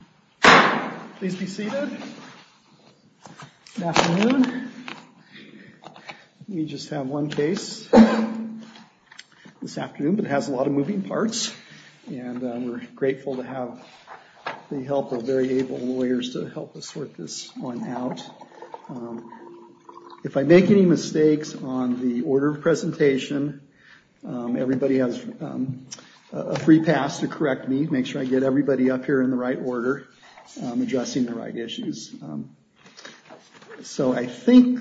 Department of Health and Human Services. We just have one case this afternoon that has a lot of moving parts and we are grateful to have the help of very able lawyers to help us sort this one out. If I make any mistakes on the order of presentation, everybody has a free pass to correct me. Make sure I get everybody up here in the right order, adjusting the right issues. So I think,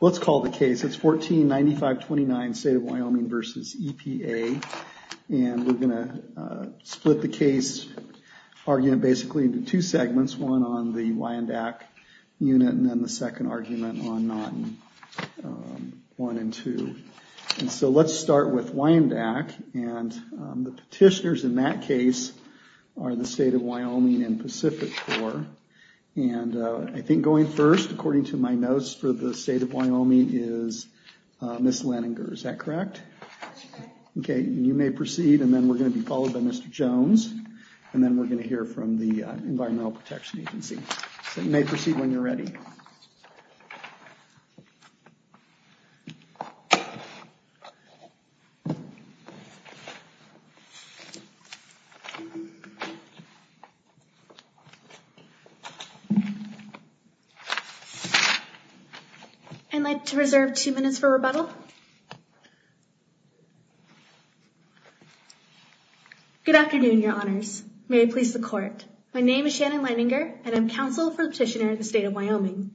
let's call the case, it's 149529 State of Wyoming v. EPA and we're going to split the case, argue basically into two segments. That's one on the Wyandak unit and then the second argument on one and two. So let's start with Wyandak and the petitioners in that case are the State of Wyoming and Pacific Corps. And I think going first, according to my notes, for the State of Wyoming is Ms. Leninger, is that correct? Okay, you may proceed and then we're going to be followed by Mr. Jones and then we're going to hear from the Environmental Protection Agency. You may proceed when you're ready. I'd like to reserve two minutes for rebuttal. Good afternoon, your honors. May it please the court. My name is Shannon Leninger and I'm counsel for the petitioner at the State of Wyoming.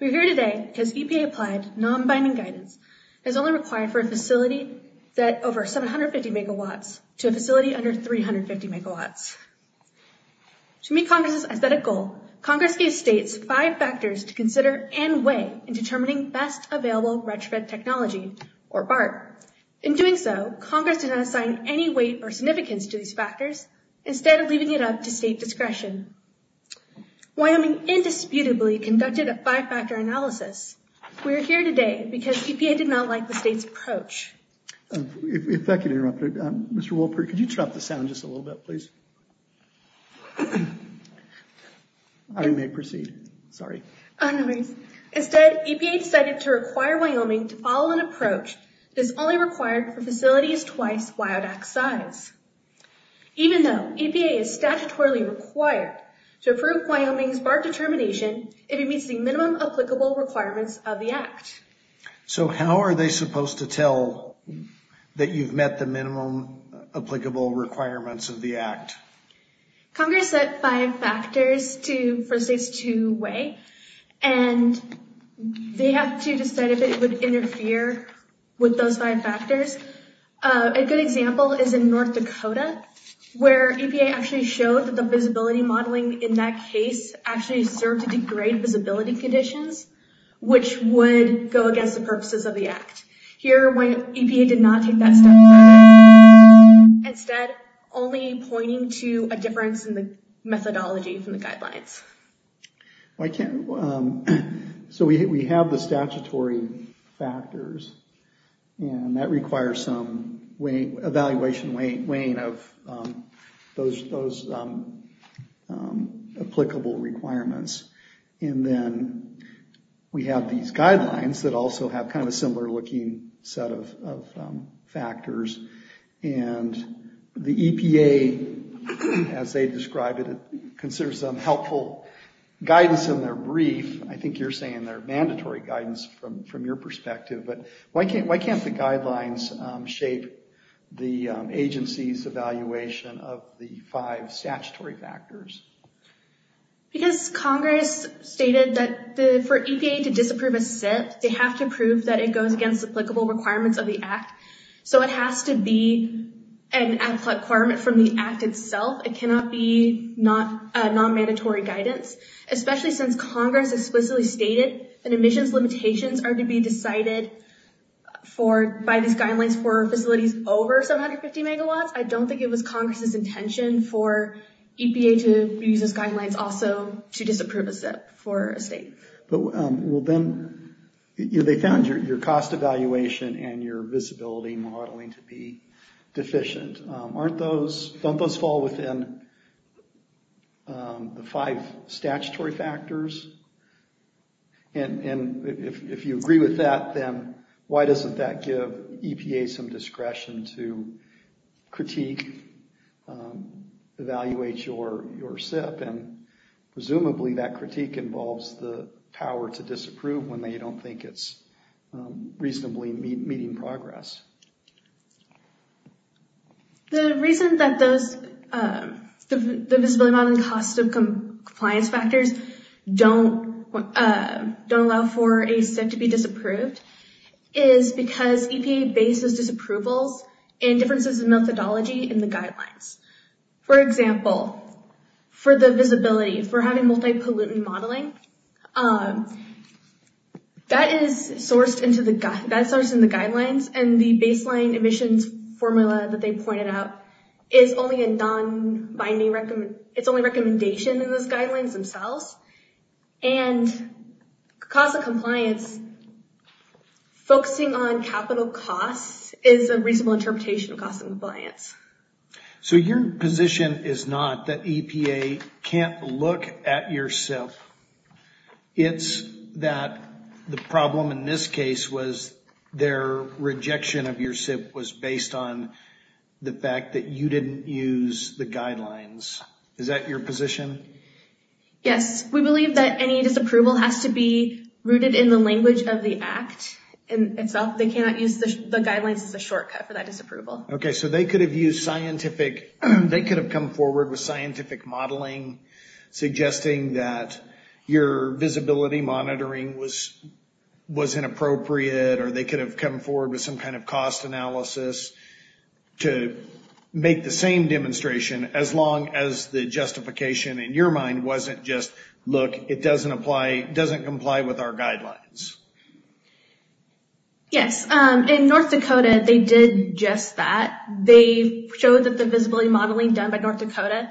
We're here today because EPA's non-binding guidance has only applied for a facility that's over 750 megawatts to a facility under 350 megawatts. To meet Congress's aesthetic goal, Congress gave states five factors to consider and weigh in determining best available retrofit technologies, or BART. In doing so, Congress does not assign any weight or significance to these factors, instead of leaving it up to state discretion. Wyoming indisputably conducted a five-factor analysis. We're here today because EPA did not like the state's approach. If that could interrupt, Mr. Wolpert, could you chop this down just a little bit, please? You may proceed. Sorry. Instead, EPA decided to require Wyoming to follow an approach that's only required for facilities twice WyoDAC's size. Even though EPA is statutorily required to approve Wyoming's BART determination, it meets the minimum applicable requirements of the Act. So how are they supposed to tell that you've met the minimum applicable requirements of the Act? Congress sets five factors to weigh, and they have to decide if it would interfere with those five factors. A good example is in North Dakota, where EPA actually showed that the visibility modeling in that case actually served to degrade visibility conditions, which would go against the purposes of the Act. Here, when EPA did not take that step, it's only pointing to a difference in the methodology from the guidelines. So we have the statutory factors, and that requires some evaluation weighing of those applicable requirements. And then we have these guidelines that also have kind of a similar-looking set of factors. And the EPA, as they describe it, considers them helpful guidance in their brief. I think you're saying they're mandatory guidance from your perspective, but why can't the guidelines shape the agency's evaluation of the five statutory factors? Because Congress stated that for EPA to disapprove of this, they have to prove that it goes against the applicable requirements of the Act. So it has to be an applicable requirement from the Act itself. It cannot be non-mandatory guidance. Especially since Congress explicitly stated that emissions limitations are to be decided by these guidelines for facilities over 750 megawatts, I don't think it was Congress's intention for EPA to use these guidelines also to disapprove of this for a state. They found your cost evaluation and your visibility modeling to be deficient. Don't those fall within the five statutory factors? And if you agree with that, then why doesn't that give EPA some discretion to critique, evaluate your SIP? Presumably that critique involves the power to disapprove when they don't think it's reasonably meeting progress. The reason that the visibility modeling costs of compliance factors don't allow for a SIP to be disapproved is because EPA bases disapproval and differences in methodology in the guidelines. For example, for the visibility, for having multi-pollutant modeling, that is sourced in the guidelines and the baseline emissions formula that they pointed out is only a non-binding recommendation in those guidelines themselves. And cost of compliance focusing on capital costs is a reasonable interpretation of cost of compliance. So your position is not that EPA can't look at your SIP. It's that the problem in this case was their rejection of your SIP was based on the fact that you didn't use the guidelines. Is that your position? Yes. We believe that any disapproval has to be rooted in the language of the Act itself. They cannot use the guidelines as a shortcut for that disapproval. Okay. So they could have come forward with scientific modeling suggesting that your visibility monitoring was inappropriate or they could have come forward with some kind of cost analysis to make the same demonstration as long as the justification in your mind wasn't just, look, it doesn't comply with our guidelines. Yes. In North Dakota, they did just that. They showed that the visibility modeling done by North Dakota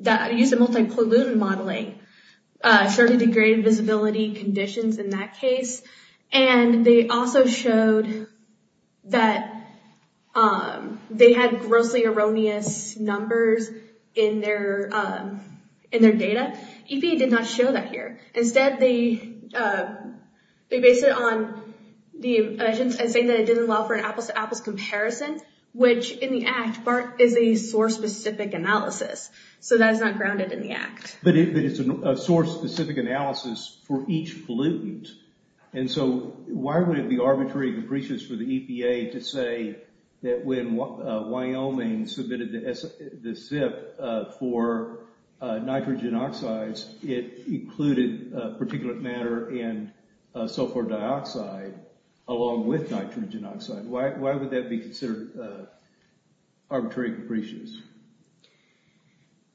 that used the multi-pollutant modeling showed to be great visibility conditions in that case. And they also showed that they had grossly erroneous numbers in their data. EPA did not show that here. Instead, they based it on saying that it didn't allow for an apple-to-apple comparison, which in the Act, part of it is for specific analysis. So that's not grounded in the Act. But it's a source-specific analysis for each pollutant. And so why would it be arbitrary for the EPA to say that when Wyoming submitted the SIP for nitrogen oxides, it included particulate matter and sulfur dioxide along with nitrogen oxide? Why would that be considered arbitrary and capricious?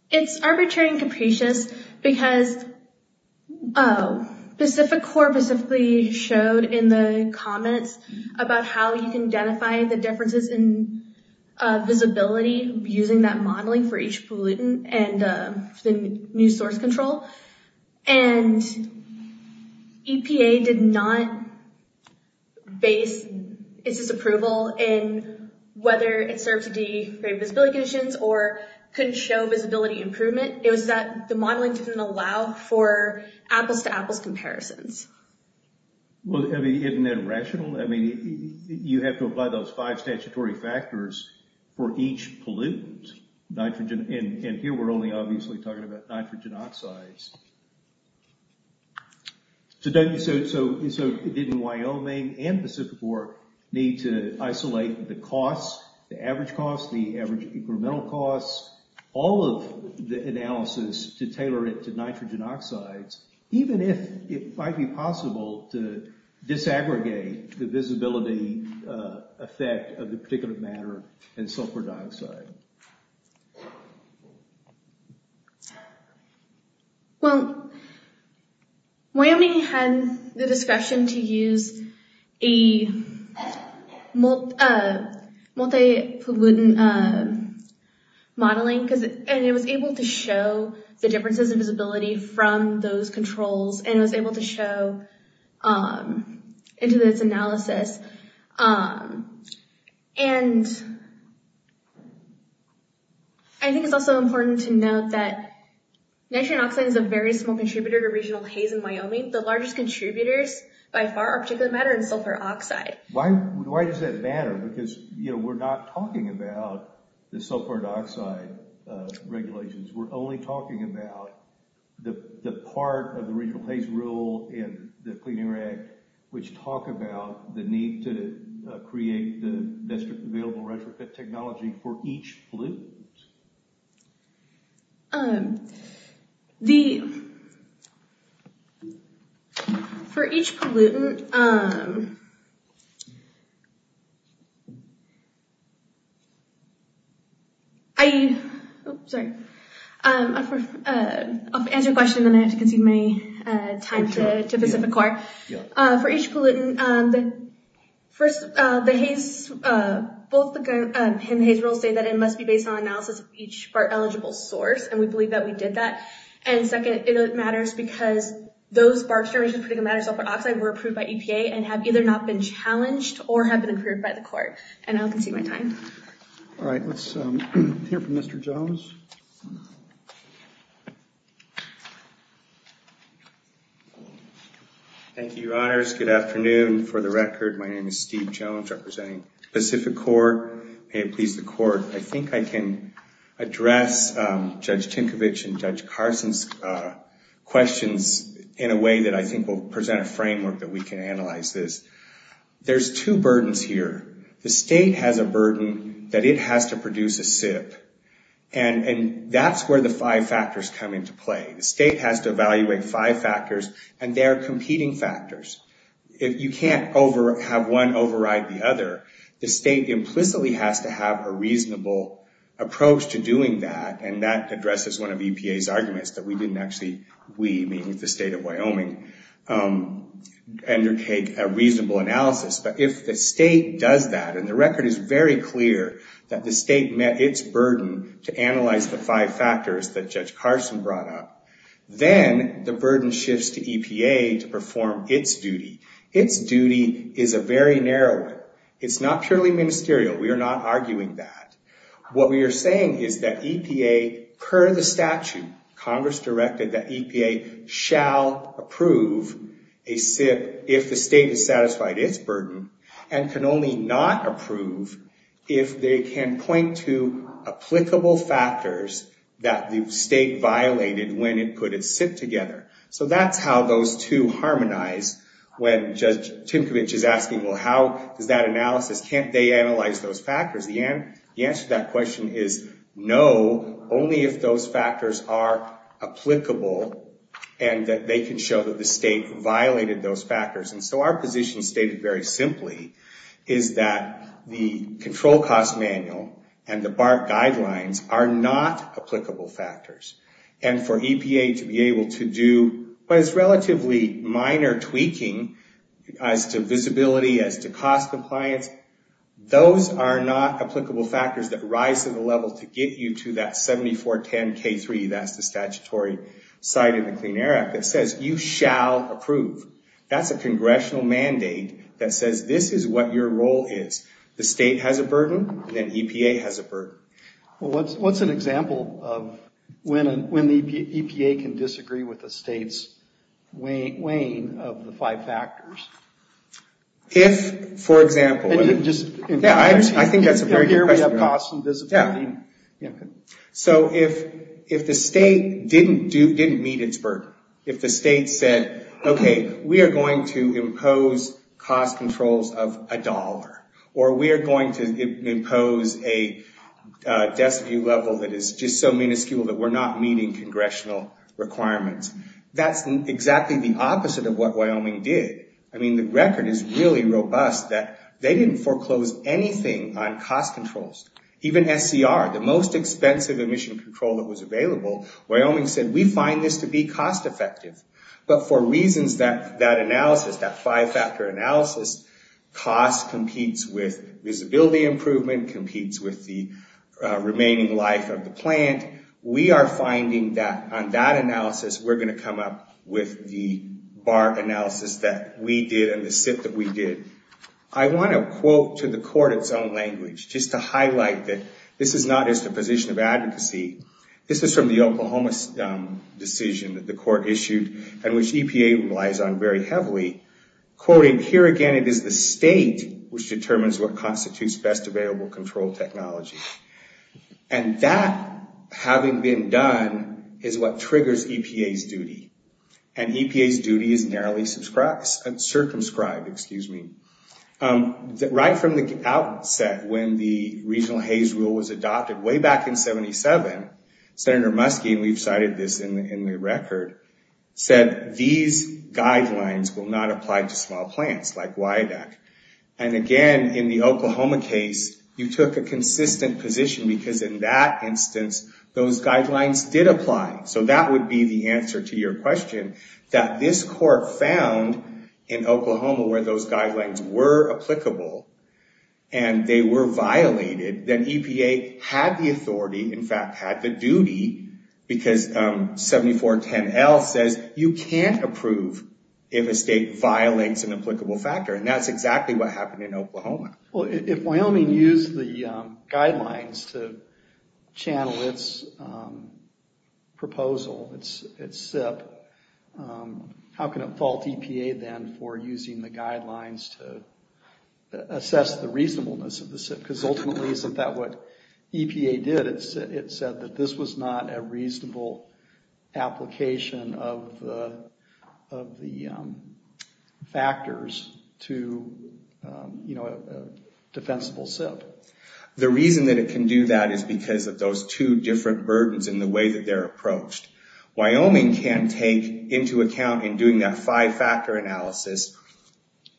It's arbitrary and capricious because the specific core specifically showed in the comments about how you can identify the differences in visibility using that modeling for each pollutant and the new source control. And EPA did not base its approval in whether it served to be great visibility conditions or couldn't show visibility improvement. It was that the modeling didn't allow for apple-to-apple comparisons. Well, I mean, isn't that irrational? I mean, you have to apply those five statutory factors for each pollutant. And here we're only obviously talking about nitrogen oxides. So didn't Wyoming and the SIP Corp. need to isolate the costs, the average costs, the average incremental costs, all of the analysis to tailor it to nitrogen oxides, even if it might be possible to disaggregate the visibility effect of the particulate matter and sulfur dioxide? Well, Wyoming had the discussion to use a multi-pollutant modeling and it was able to show the differences in visibility from those controls and it was able to show into this analysis. And I think it's also important to note that nitrogen oxide is a very small contributor to regional haze in Wyoming. The largest contributors by far are particulate matter and sulfur oxide. Why does that matter? Because we're not talking about the sulfur dioxide regulations. We're only talking about the part of the regional haze rule and the cleaning act which talk about the need to create the best available retrofit technology for each pollutant. For each pollutant... I'll answer questions and then I have to consume my time to pick up the clock. For each pollutant... First, both the haze rules say that it must be based on analysis of each BART-eligible source and we believe that we did that. And second, it matters because those BART services, particulate matter and sulfur oxide, were approved by EPA and have either not been challenged or have been approved by the court. And I'll consume my time. All right, let's hear from Mr. Jones. Thank you, Your Honors. Good afternoon. For the record, my name is Steve Jones representing Pacific Corps. May it please the court, I think I can address Judge Tinkovich and Judge Carson's questions in a way that I think will present a framework that we can analyze this. There's two burdens here. The state has a burden that it has to produce a SIFT. And that's where the five factors come into play. The state has to evaluate five factors and they're competing factors. If you can't have one override the other, the state implicitly has to have a reasonable approach to doing that and that addresses one of EPA's arguments that we didn't actually, we meaning the state of Wyoming, undertake a reasonable analysis. But if the state does that, and the record is very clear that the state met its burden to analyze the five factors that Judge Carson brought up, then the burden shifts to EPA to perform its duty. Its duty is a very narrow one. It's not truly ministerial. We are not arguing that. What we are saying is that EPA, per the statute, Congress directed that EPA shall approve a SIFT if the state is satisfied its burden and can only not approve if they can point to applicable factors that the state violated when it put its SIFT together. So that's how those two harmonize when Judge Tinkovich is asking, well, how does that analysis, can't they analyze those factors? The answer to that question is no, only if those factors are applicable and that they can show that the state violated those factors. And so our position is stated very simply is that the control cost manual and the BART guidelines are not applicable factors. And for EPA to be able to do what is relatively minor tweaking as to visibility, as to cost applied, those are not applicable factors that rise to the level to get you to that 7410K3, that's the statutory side of the Clean Air Act, that says you shall approve. That's a congressional mandate that says this is what your role is. The state has a burden, then EPA has a burden. Well, what's an example of when the EPA can disagree with the state's weighing of the five factors? If, for example... Yeah, I think that's a great question. Yeah. So if the state didn't meet its burden, if the state said, okay, we are going to impose cost controls of a dollar, or we are going to impose a deficit level that is just so minuscule that we're not meeting congressional requirements, that's exactly the opposite of what Wyoming did. I mean, the record is really robust that they didn't foreclose anything on cost controls. Even SCR, the most expensive emission control that was available, Wyoming said, we find this to be cost effective. But for reasons that analysis, that five-factor analysis, cost competes with visibility improvement, competes with the remaining life of the plant, we are finding that on that analysis we're going to come up with the bar analysis that we did and the fit that we did. I want to quote to the court its own language, just to highlight that this is not just a position of advocacy. This is from the Oklahoma decision that the court issued and which EPA relies on very heavily. Quoting, here again it is the state which determines what constitutes best available control technology. And that, having been done, is what triggers EPA's duty. And EPA's duty is narrowly circumscribed. Right from the outset when the regional haze rule was adopted way back in 77, Senator Muskie, and we cited this in the record, said these guidelines will not apply to small plants like WIDAC. And again, in the Oklahoma case, you took a consistent position because in that instance those guidelines did apply. So that would be the answer to your question, that this court found in Oklahoma where those guidelines were applicable and they were violated, that EPA had the authority, in fact had the duty, because 7410L says you can't approve if a state violates an applicable factor. And that's exactly what happened in Oklahoma. If Wyoming used the guidelines to channel its proposal, its SIP, how can it fault EPA then for using the guidelines to assess the reasonableness of the SIP? Because ultimately isn't that what EPA did? It said that this was not a reasonable application of the factors to a defensible SIP. The reason that it can do that is because of those two different burdens and the way that they're approached. Wyoming can't take into account in doing that five-factor analysis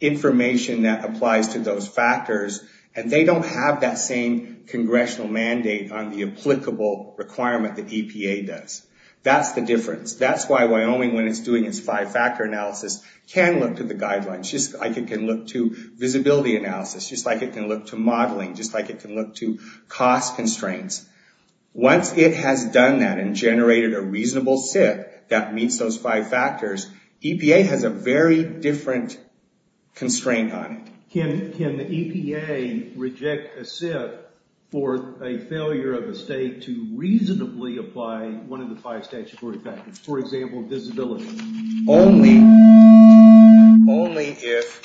information that applies to those factors, and they don't have that same congressional mandate on the applicable requirement that EPA does. That's the difference. That's why Wyoming, when it's doing its five-factor analysis, can look to the guidelines just like it can look to visibility analysis, just like it can look to modeling, just like it can look to cost constraints. Once it has done that and generated a reasonable SIP that meets those five factors, EPA has a very different constraint on it. Can EPA reject a SIP for a failure of the state to reasonably apply one of the five statutory factors, for example, visibility? Only if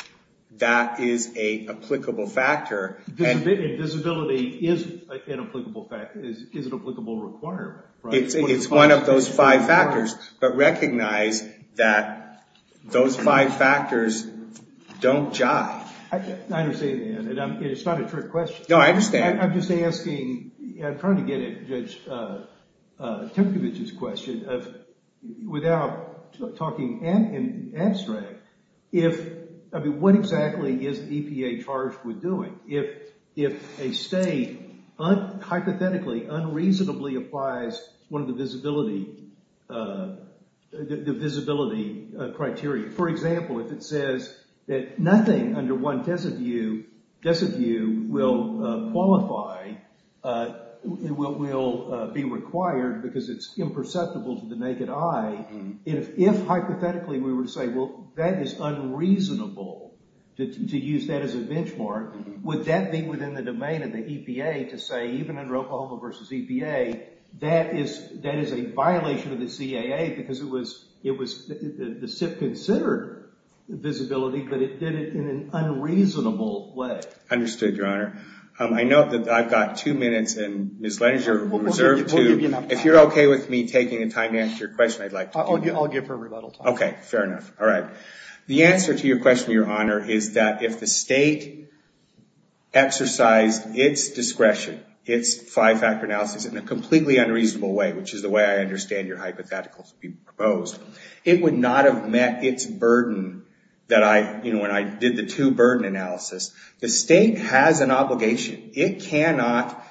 that is an applicable factor. Visibility is an applicable requirement. It's one of those five factors. But recognize that those five factors don't jive. I understand, and it's not a trick question. No, I understand. I'm just asking, trying to get at Judge Tinkovich's question, without talking and answering, what exactly is EPA charged with doing? If a state, hypothetically, unreasonably applies one of the visibility criteria, for example, if it says that nothing under one test of view will qualify and will be required because it's imperceptible to the naked eye, if, hypothetically, we were to say, well, that is unreasonable to use that as a benchmark, would that be within the domain of the EPA to say, even in Rocahoma versus EPA, that is a violation of the CAA because the SIP considered visibility, but it did it in an unreasonable way? Understood, Your Honor. I know that I've got two minutes, and Ms. Langer, if you're okay with me taking the time to answer your question, I'd like to do that. I'll give her a little time. Okay, fair enough. All right. The answer to your question, Your Honor, is that if the state exercised its discretion, its five-factor analysis in a completely unreasonable way, which is the way I understand your hypothetical to be proposed, it would not have met its burden that I, you know, when I did the two-burden analysis. The state has an obligation. It cannot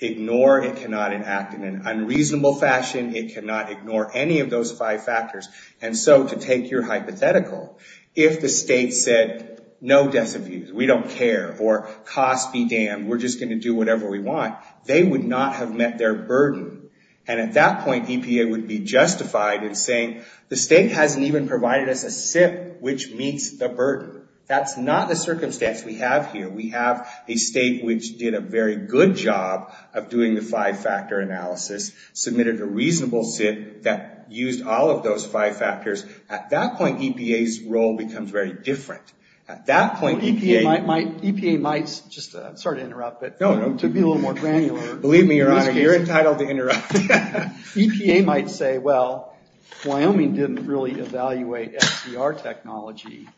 ignore, it cannot enact in an unreasonable fashion, it cannot ignore any of those five factors. And so, to take your hypothetical, if the state said, no decimals, we don't care, or costs be damned, we're just going to do whatever we want, they would not have met their burden. And at that point, EPA would be justified in saying, the state hasn't even provided us a SIP which meets the burden. That's not the circumstance we have here. We have a state which did a very good job of doing the five-factor analysis, submitted a reasonable SIP that used all of those five factors. At that point, EPA's role becomes very different. At that point, EPA might... EPA might, just, sorry to interrupt, but to be a little more granular. Believe me, Your Honor, you're entitled to interrupt. EPA might say, well, Wyoming didn't really evaluate SDR technology.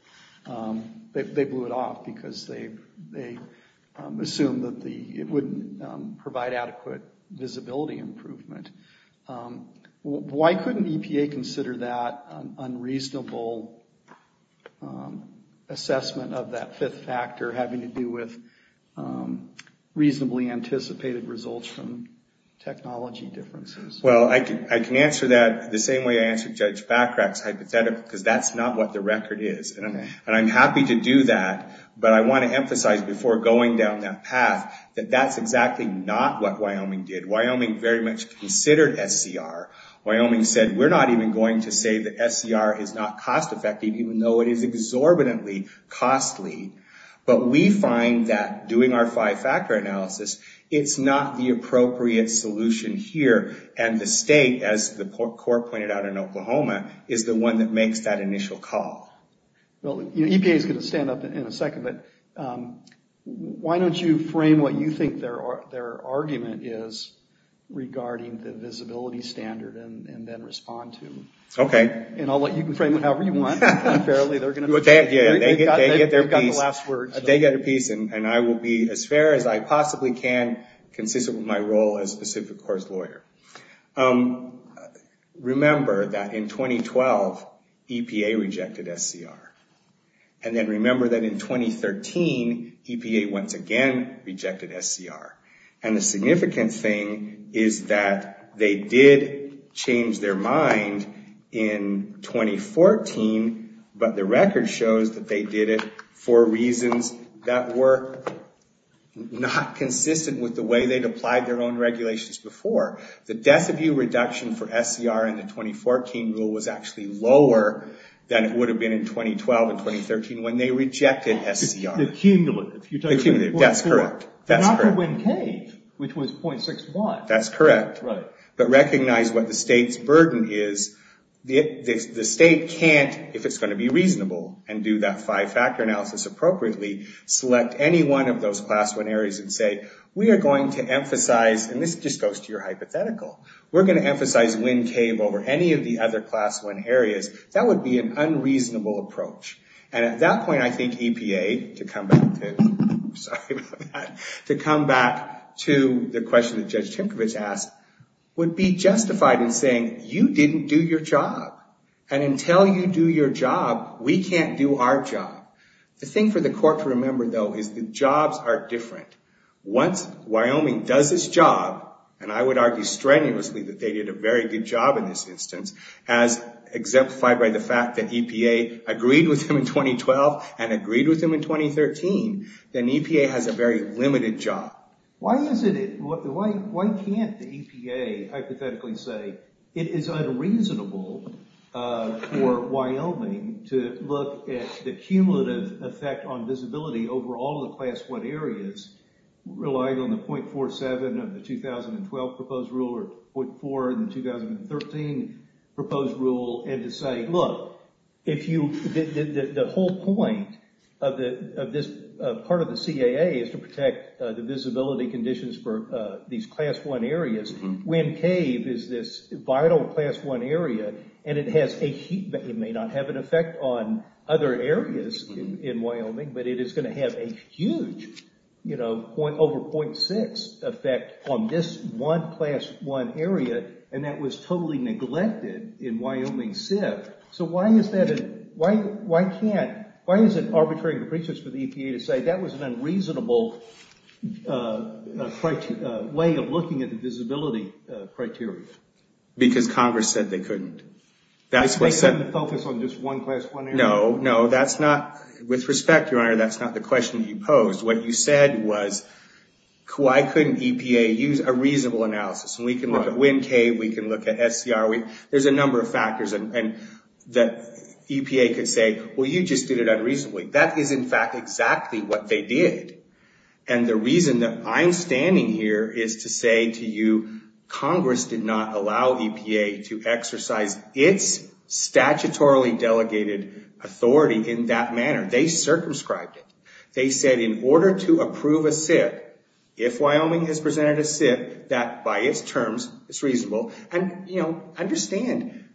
They blew it off because they assumed that it wouldn't provide adequate visibility improvement. Why couldn't EPA consider that an unreasonable assessment of that fifth factor having to do with reasonably anticipated results from technology differences? Well, I can answer that the same way I answered Judge Favrek's hypothetical, because that's not what the record is. And I'm happy to do that, but I want to emphasize before going down that path, that that's exactly not what Wyoming did. Wyoming very much considered SDR. Wyoming said, we're not even going to say that SDR is not cost-effective, even though it is exorbitantly costly. But we find that doing our five-factor analysis, it's not the appropriate solution here. And the state, as the court pointed out in Oklahoma, is the one that makes that initial call. EPA's going to stand up in a second, but why don't you frame what you think their argument is regarding the visibility standard and then respond to it. Okay. And I'll let you frame it however you want. They get a piece, and I will be as fair as I possibly can, consistent with my role as Pacific Course lawyer. Remember that in 2012, EPA rejected SDR. And then remember that in 2013, EPA once again rejected SDR. And the significant thing is that they did change their mind in 2014, but the record shows that they did it for reasons that were not consistent with the way they'd applied their own regulations before. The death of view reduction for SDR in the 2014 rule was actually lower than it would have been in 2012 and 2013 when they rejected SDR. The cumulative. The cumulative. That's correct. Not the wind cave, which was .61. That's correct. But recognize what the state's burden is. The state can't, if it's going to be reasonable and do that five-factor analysis appropriately, select any one of those Class I areas and say, we are going to emphasize, and this just goes to your hypothetical, we're going to emphasize wind cave over any of the other Class I areas. That would be an unreasonable approach. And at that point, I think EPA, to come back to, sorry about that, to come back to the question that Judge Tinker has asked, would be justified in saying, you didn't do your job. And until you do your job, we can't do our job. The thing for the court to remember, though, is that jobs are different. Once Wyoming does its job, and I would argue strenuously that they did a very good job in this instance, as exemplified by the fact that EPA agreed with them in 2012 and agreed with them in 2013, then EPA has a very limited job. Why can't EPA hypothetically say, it is unreasonable for Wyoming to look at the cumulative effect on visibility over all of the Class I areas, relying on the .47 of the 2012 proposed rule or .4 in the 2013 proposed rule, and to say, look, the whole point of this part of the CAA is to protect the visibility conditions for these Class I areas. Wind cave is this vital Class I area, and it may not have an effect on other areas in Wyoming, but it is going to have a huge, you know, over .6 effect on this one Class I area, and that was totally neglected in Wyoming SIF. So why is that, why can't, why is it arbitrary for EPA to say, that was an unreasonable way of looking at the visibility criteria? Because Congress said they couldn't. That's what they said. They couldn't focus on just one Class I area? No, no, that's not, with respect, Your Honor, that's not the question you posed. What you said was, why couldn't EPA use a reasonable analysis? And we can look at wind cave, we can look at SDR, there's a number of factors that EPA could say, well, you just did it unreasonably. That is, in fact, exactly what they did. And the reason that I'm standing here is to say to you, Congress did not allow EPA to exercise its statutorily delegated authority in that manner. They circumscribed. They said in order to approve a SIF, if Wyoming has presented a SIF, that by its terms is reasonable, and, you know, understand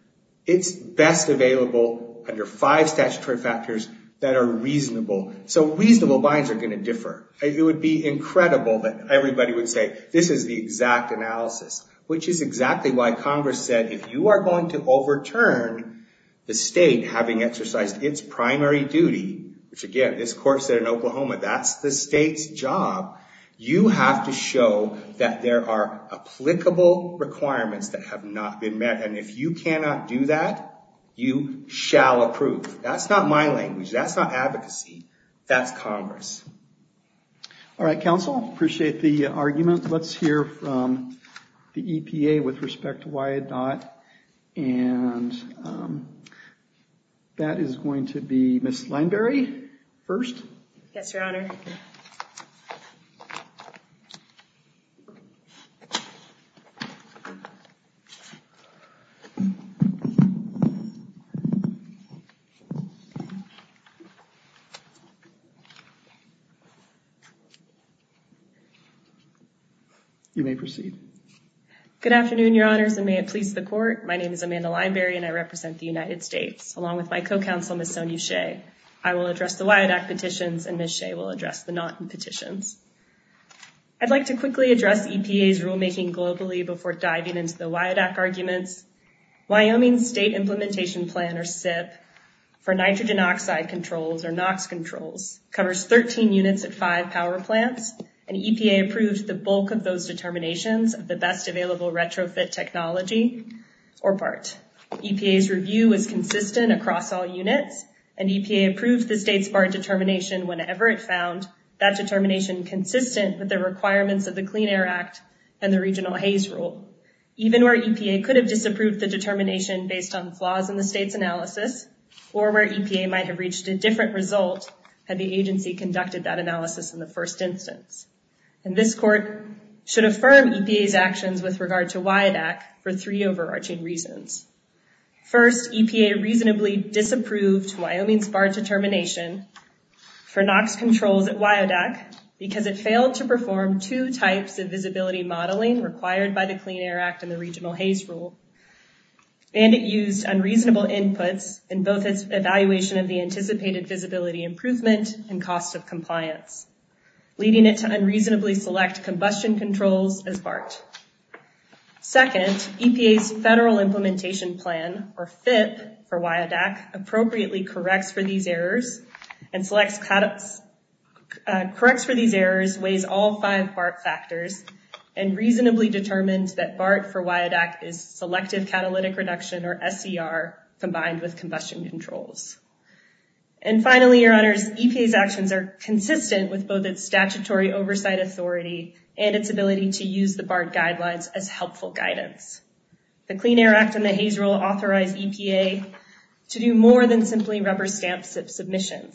it's best available under five statutory factors that are reasonable. So reasonable binds are going to differ. It would be incredible that everybody would say, this is the exact analysis, which is exactly why Congress said if you are going to overturn the state having exercised its primary duty, which, again, this Court said in Oklahoma, that's the state's job, you have to show that there are applicable requirements that have not been met. And if you cannot do that, you shall approve. That's not my language. That's not advocacy. That's Congress. All right, counsel. Appreciate the argument. Let's hear from the EPA with respect to why it not. And that is going to be Ms. Langberry first. Yes, Your Honor. You may proceed. Good afternoon, Your Honors, and may it please the Court. My name is Amanda Langberry, and I represent the United States. Along with my co-counsel, Ms. Sonya Shea, I will address the WIADAC petitions, and Ms. Shea will address the NAWQA petitions. I'd like to quickly address EPA's rulemaking globally before diving into the WIADAC arguments. Wyoming's state implementation plan, or SIF, for nitrogen oxide controls, covers 13 units of five power plants, and EPA approves the bulk of those determinations of the best available retrofit technology or part. EPA's review is consistent across all units, and EPA approves the state's bar determination whenever it found that determination consistent with the requirements of the Clean Air Act and the Regional Haze Rule. Even where EPA could have disapproved the determination based on flaws in the state's analysis, or where EPA might have reached a different result had the agency conducted that analysis in the first instance. And this Court should affirm EPA's actions with regard to WIADAC for three overarching reasons. First, EPA reasonably disapproved Wyoming's bar determination for NOx-controlled WIADAC because it failed to perform two types of visibility modeling required by the Clean Air Act and the Regional Haze Rule. And it used unreasonable input in both its evaluation of the anticipated visibility improvement and cost of compliance, leading it to unreasonably select combustion controls as BART. Second, EPA's federal implementation plan, or FIF, for WIADAC, appropriately corrects for these errors and reasonably determines that BART for WIADAC is Selective Catalytic Reduction, or SER, combined with combustion controls. And finally, your honors, EPA's actions are consistent with both its statutory oversight authority and its ability to use the BART guidelines as helpful guidance. The Clean Air Act and the Haze Rule authorize EPA to do more than simply remember stamps of submission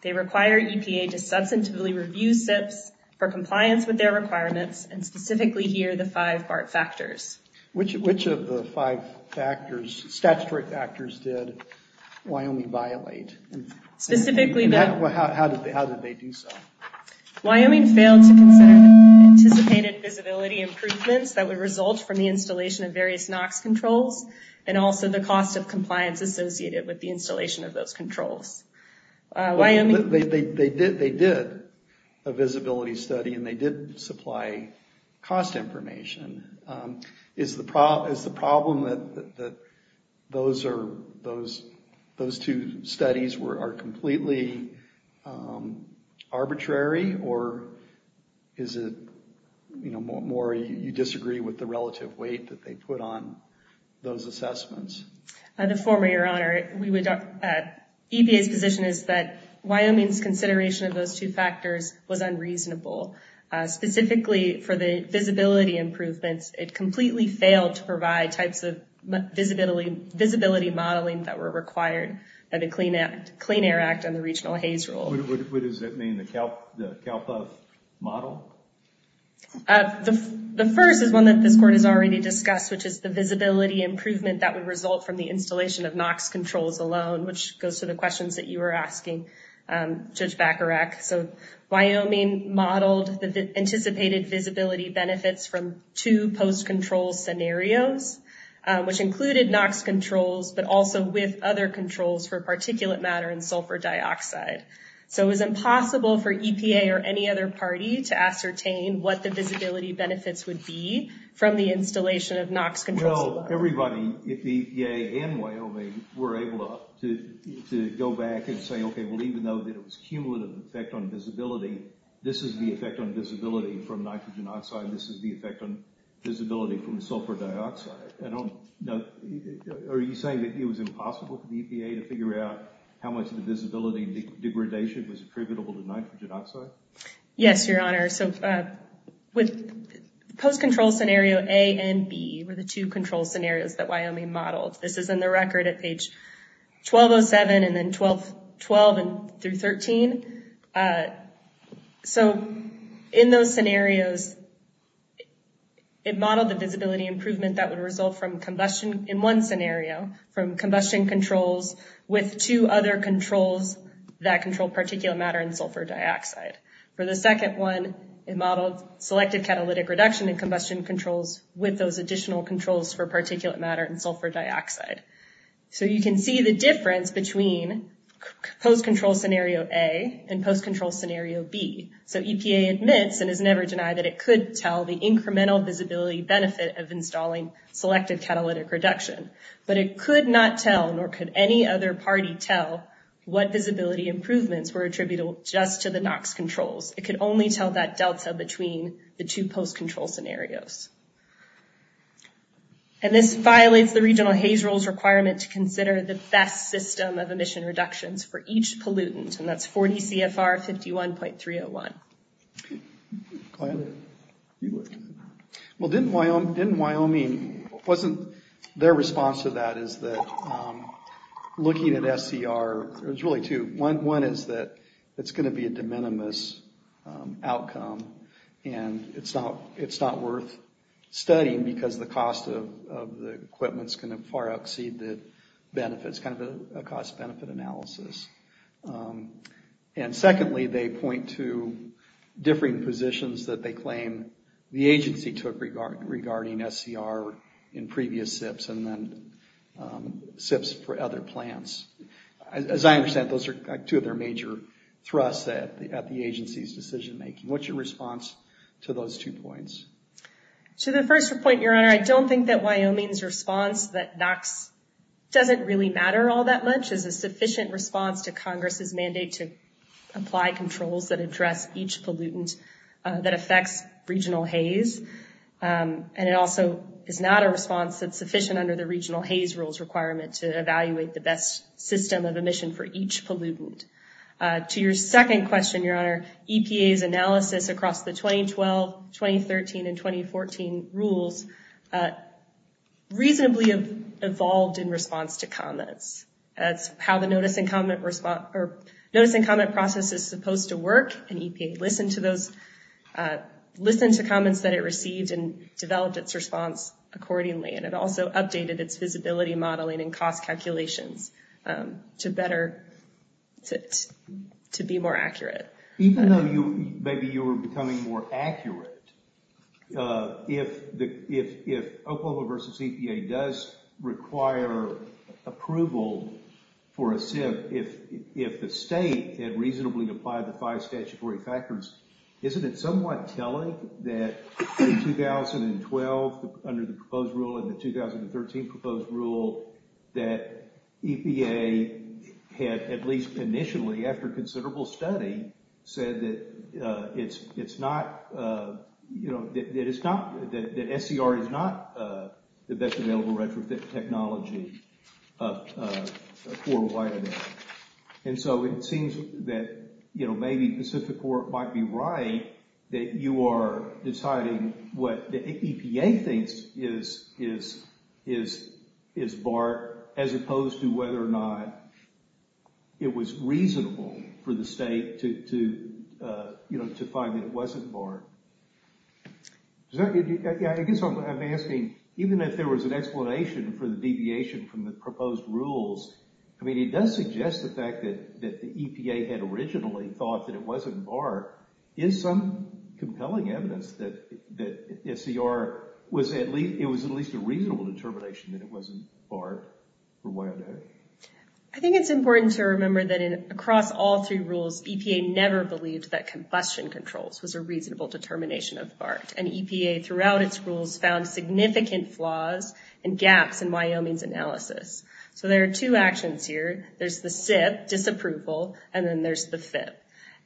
They require EPA to substantively review steps for compliance with their requirements and specifically hear the five BART factors. Which of the five factors, statutory factors, did Wyoming violate? Specifically... How did they do so? Wyoming failed to consider the anticipated visibility improvements that would result from the installation of various NOx controls and also the cost of compliance associated with the installation of those controls. They did a visibility study and they did supply cost information. Is the problem that those two studies are completely arbitrary? Or is it more you disagree with the relative weight that they put on those assessments? The former, your honor, EPA's position is that Wyoming's consideration of those two factors was unreasonable. Specifically for the visibility improvements, it completely failed to provide types of visibility modeling that were required by the Clean Air Act and the Regional Haze Rule. What does that mean, the CALPAS model? The first is one that this court has already discussed, which is the visibility improvement that would result from the installation of NOx controls alone, which goes to the questions that you were asking, Judge Bacharach. Wyoming modeled the anticipated visibility benefits from two post-control scenarios, which included NOx controls but also with other controls for particulate matter and sulfur dioxide. So it was impossible for EPA or any other party to ascertain what the visibility benefits would be from the installation of NOx controls. Well, everybody at the EPA and Wyoming were able to go back and say, okay, well, even though there was cumulative effect on visibility, this is the effect on visibility from nitrogen oxide. This is the effect on visibility from sulfur dioxide. Are you saying that it was impossible for the EPA to figure out how much of the visibility degradation is attributable to nitrogen oxide? Yes, Your Honor. With post-control scenario A and B were the two control scenarios that Wyoming modeled. This is in the record at page 1207 and then 12 through 13. So in those scenarios, it modeled the visibility improvement that would result from combustion in one scenario from combustion controls with two other controls that control particulate matter and sulfur dioxide. For the second one, it modeled selective catalytic reduction in combustion controls with those additional controls for particulate matter and sulfur dioxide. So you can see the difference between post-control scenario A and post-control scenario B. So EPA admits and has never denied that it could tell the incremental visibility benefit of installing selective catalytic reduction. But it could not tell nor could any other party tell what visibility improvements were attributable just to the NOx controls. It could only tell that delta between the two post-control scenarios. And this violates the regional HAZE rules requirement to consider the SESS system of emission reductions for each pollutant. And that's 40 CFR 51.301. Well, didn't Wyoming... Wasn't their response to that is that looking at SCR, there's really two. One is that it's going to be a de minimis outcome and it's not worth studying because the cost of the equipment's going to far exceed the benefits, kind of a cost-benefit analysis. And secondly, they point to differing positions that they claim the agency took regarding SCR in previous SIPs and then SIPs for other plants. As I understand, those are two of their major thrusts at the agency's decision-making. What's your response to those two points? To the first point, Your Honor, I don't think that Wyoming's response that that doesn't really matter all that much is a sufficient response to Congress's mandate to apply controls that address each pollutant that affects regional HAZE. And it also is not a response that's sufficient under the regional HAZE rules requirement to evaluate the best system of emission for each pollutant. To your second question, Your Honor, EPA's analysis across the 2012, 2013, and 2014 rules reasonably evolved in response to comments. That's how the notice and comment process is supposed to work, and EPA listened to comments that it received and developed its response accordingly. And it also updated its feasibility modeling and cost calculations to better fit, to be more accurate. Even though maybe you were becoming more accurate, if Oklahoma versus EPA does require approval for a SIP, if the state had reasonably applied the five statutory factors, isn't it somewhat telling that in 2012, under the proposed rule, and the 2013 proposed rule, that EPA had at least initially, after considerable study, said that it's not, you know, that SCR is not the best available record for technology for a wide amount. And so it seems that, you know, maybe Pacific Court might be right, that you are deciding what the EPA thinks is BART, as opposed to whether or not it was reasonable for the state to, you know, to find that it wasn't BART. I guess I'm asking, even if there was an explanation for the deviation from the proposed rules, I mean, it does suggest the fact that the EPA had originally thought that it wasn't BART. Is some compelling evidence that SCR was at least, it was at least a reasonable determination that it wasn't BART? I think it's important to remember that across all three rules, EPA never believed that combustion controls was a reasonable determination of BART. And EPA, throughout its rules, found significant flaws and gaps in Wyoming's analysis. So there are two actions here. There's the fifth, disapproval, and then there's the fifth.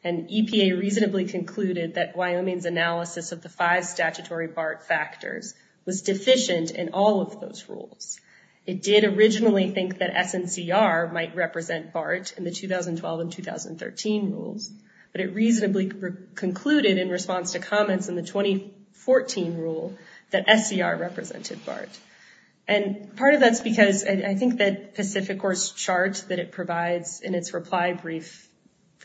And EPA reasonably concluded that Wyoming's analysis of the five statutory BART factors was deficient in all of those rules. It did originally think that SCR might represent BART in the 2012 and 2013 rules, but it reasonably concluded in response to comments in the 2014 rule that SCR represented BART. And part of that's because I think that Pacific Horse chart that it provides in its reply brief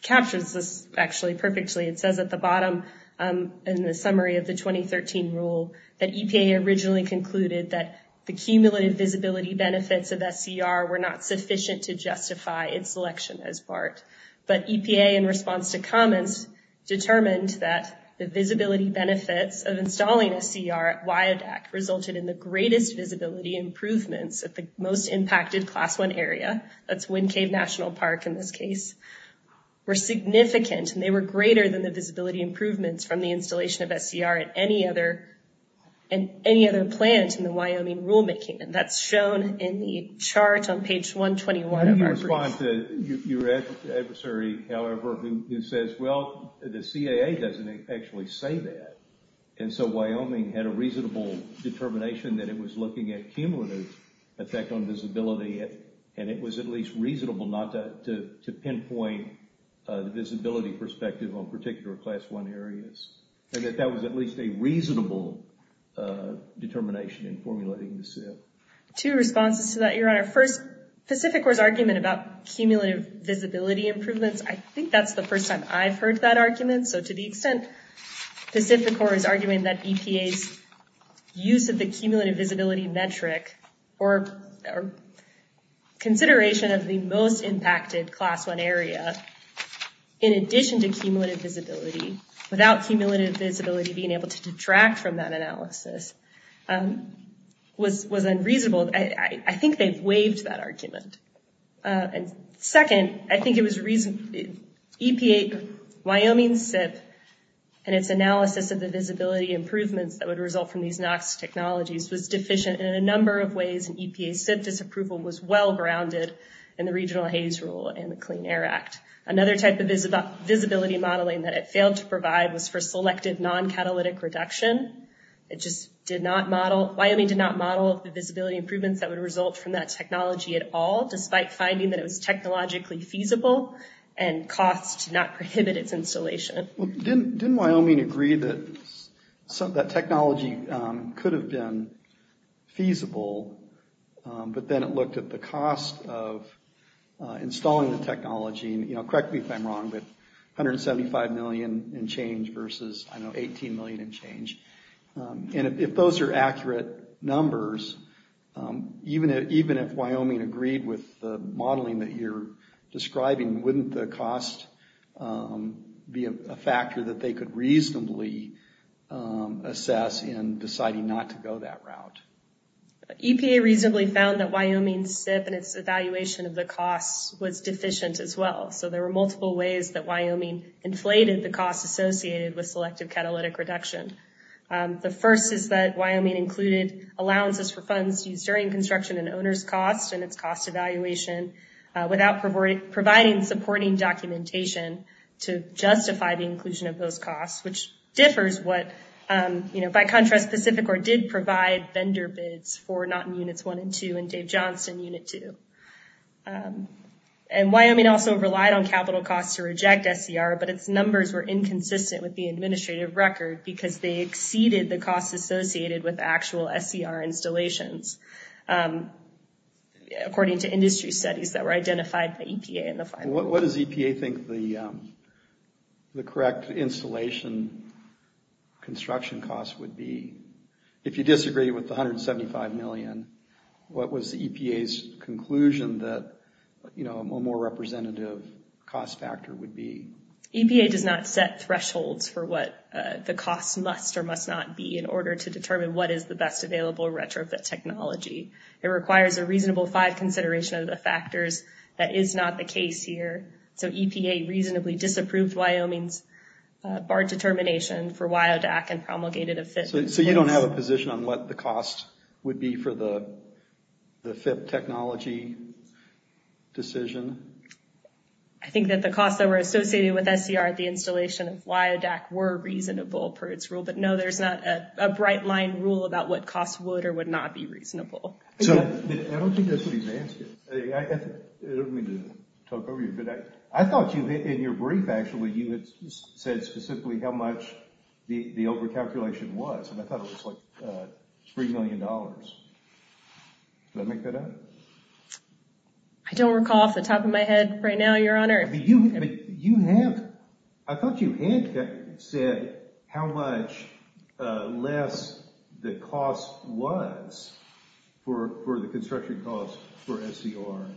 captures this actually perfectly. It says at the bottom, in the summary of the 2013 rule, that EPA originally concluded that the cumulative visibility benefits of SCR were not sufficient to justify its selection as BART. But EPA, in response to comments, determined that the visibility benefits of installing SCR at WIADAC resulted in the greatest visibility improvements at the most impacted Class I area, that's Wind Cave National Park in this case, were significant, and they were greater than the visibility improvements from the installation of SCR at any other plant in the Wyoming rulemaking. That's shown in the chart on page 121. In response to your adversary, however, who says, well, the CAA doesn't actually say that. And so Wyoming had a reasonable determination that it was looking at cumulative effect on visibility, and it was at least reasonable not to pinpoint the visibility perspective on particular Class I areas, and that that was at least a reasonable determination in formulating this data. Two responses to that, Your Honor. First, Pacific Horse's argument about cumulative visibility improvements, I think that's the first time I've heard that argument. So to the extent Pacific Horse's argument that EPA's use of the cumulative visibility metric or consideration of the most impacted Class I area in addition to cumulative visibility, without cumulative visibility being able to detract from that analysis, was unreasonable, I think they've waived that argument. Second, I think it was EPA's Wyoming SIFT and its analysis of the visibility improvements that would result from these NOx technologies was deficient in a number of ways. EPA SIFT's approval was well-grounded in the Regional Haze Rule and the Clean Air Act. Another type of visibility modeling that it failed to provide was for selective non-catalytic reduction. Wyoming did not model the visibility improvements that would result from that technology at all, despite finding that it was technologically feasible, and costs did not prohibit its installation. Didn't Wyoming agree that technology could have been feasible, but then it looked at the cost of installing the technology, and correct me if I'm wrong, but $175 million in change versus $18 million in change. And if those are accurate numbers, even if Wyoming agreed with the modeling that you're describing, wouldn't the cost be a factor that they could reasonably assess in deciding not to go that route? EPA reasonably found that Wyoming's SIFT and its evaluation of the cost was deficient as well, so there were multiple ways that Wyoming inflated the cost associated with selective catalytic reduction. The first is that Wyoming included allowances for funds used during construction and owner's costs and its cost evaluation without providing supporting documentation to justify the inclusion of those costs, which differs what, by contrast, Pacificore did provide vendor bids for Notton Units 1 and 2 and Dave Johnson Unit 2. And Wyoming also relied on capital costs to reject SDR, but its numbers were inconsistent with the administrative record because they exceeded the cost associated with actual SDR installations, according to industry studies that were identified by EPA in the final. What does EPA think the correct installation construction costs would be? If you disagree with the $175 million, what was EPA's conclusion that a more representative cost factor would be? EPA does not set thresholds for what the cost must or must not be in order to determine what is the best available retrofit technology. It requires a reasonable five consideration of the factors. That is not the case here. So EPA reasonably disapproved Wyoming's bar determination for WIODAC and promulgated a SIFT. So you don't have a position on what the cost would be for the SIFT technology decision? I think that the costs that were associated with SDR at the installation of WIODAC were reasonable per its rule, but no, there's not a bright line rule about what costs would or would not be reasonable. I don't think that's what he's asking. I don't mean to talk over you, but I thought in your brief, actually, you had said specifically how much the over-calculation was, and I thought it was like $3 million. Did I make that out? I don't recall off the top of my head right now, Your Honor. I thought you had said how much less the cost was for the construction cost for SDR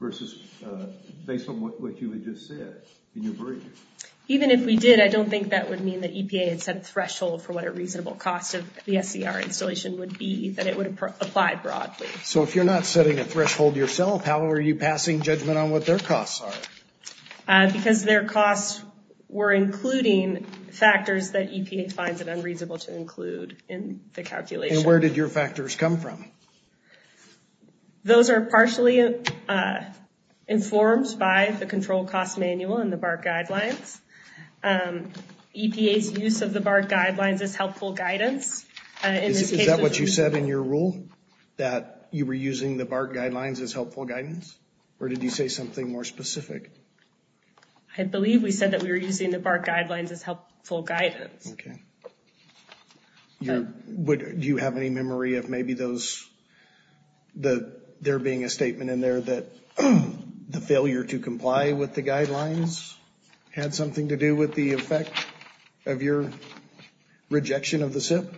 versus based on what you had just said in your brief. Even if we did, I don't think that would mean that EPA had set a threshold for what a reasonable cost of the SDR installation would be, that it would apply broadly. So if you're not setting a threshold yourself, how are you passing judgment on what their costs are? Because their costs were including factors that EPA finds it unreasonable to include in the calculation. And where did your factors come from? Those are partially informed by the control cost manual and the BART guidelines. EPA's use of the BART guidelines is helpful guidance. Is that what you said in your rule, that you were using the BART guidelines as helpful guidance? Or did you say something more specific? I believe we said that we were using the BART guidelines as helpful guidance. Okay. Do you have any memory of maybe there being a statement in there that the failure to comply with the guidelines had something to do with the effect of your rejection of the SIP?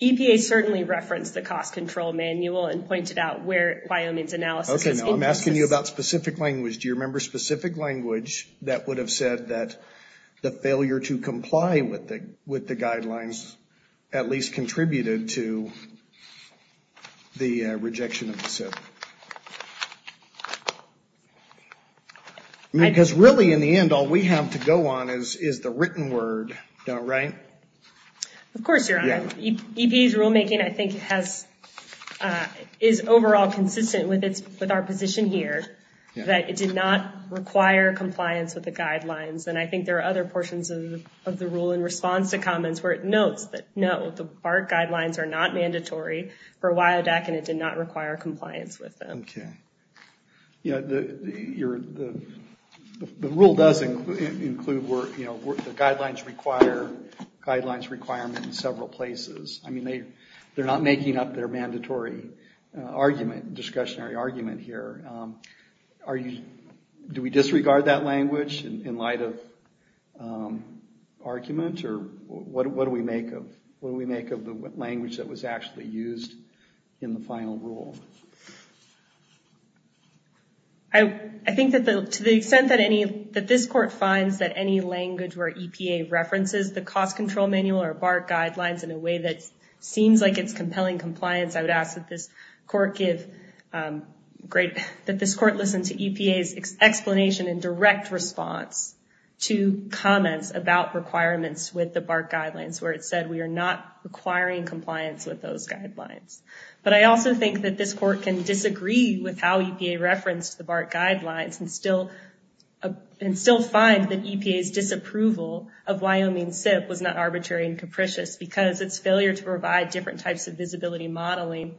EPA certainly referenced the cost control manual and pointed out where Biomids Analysis... Okay, now I'm asking you about specific language. Do you remember specific language that would have said that the failure to comply with the guidelines had something to do with the effect of your rejection of the SIP? Because really, in the end, all we have to go on is the written word, right? Of course, your honor. EPA's rulemaking, I think, is overall consistent with our position here, that it did not require compliance with the guidelines. And I think there are other portions of the rule in response to comments where it notes that, the BART guidelines are not mandatory for WIODAC and it did not require compliance with them. Okay. Yeah, the rule does include where the guidelines require guidelines requirements in several places. I mean, they're not making up their mandatory argument, discussionary argument here. Do we disregard that language in light of arguments, or what do we make of the language that was actually used in the final rule? I think that to the extent that this court finds that any language where EPA references the cost control manual or BART guidelines in a way that seems like it's compelling compliance, I would ask that this court listen to EPA's explanation and direct response to comments about requirements with the BART guidelines where it said we are not requiring compliance with those guidelines. But I also think that this court can disagree with how EPA referenced the BART guidelines and still find that EPA's disapproval of Wyoming SIP was not arbitrary and capricious because its failure to provide different types of visibility modeling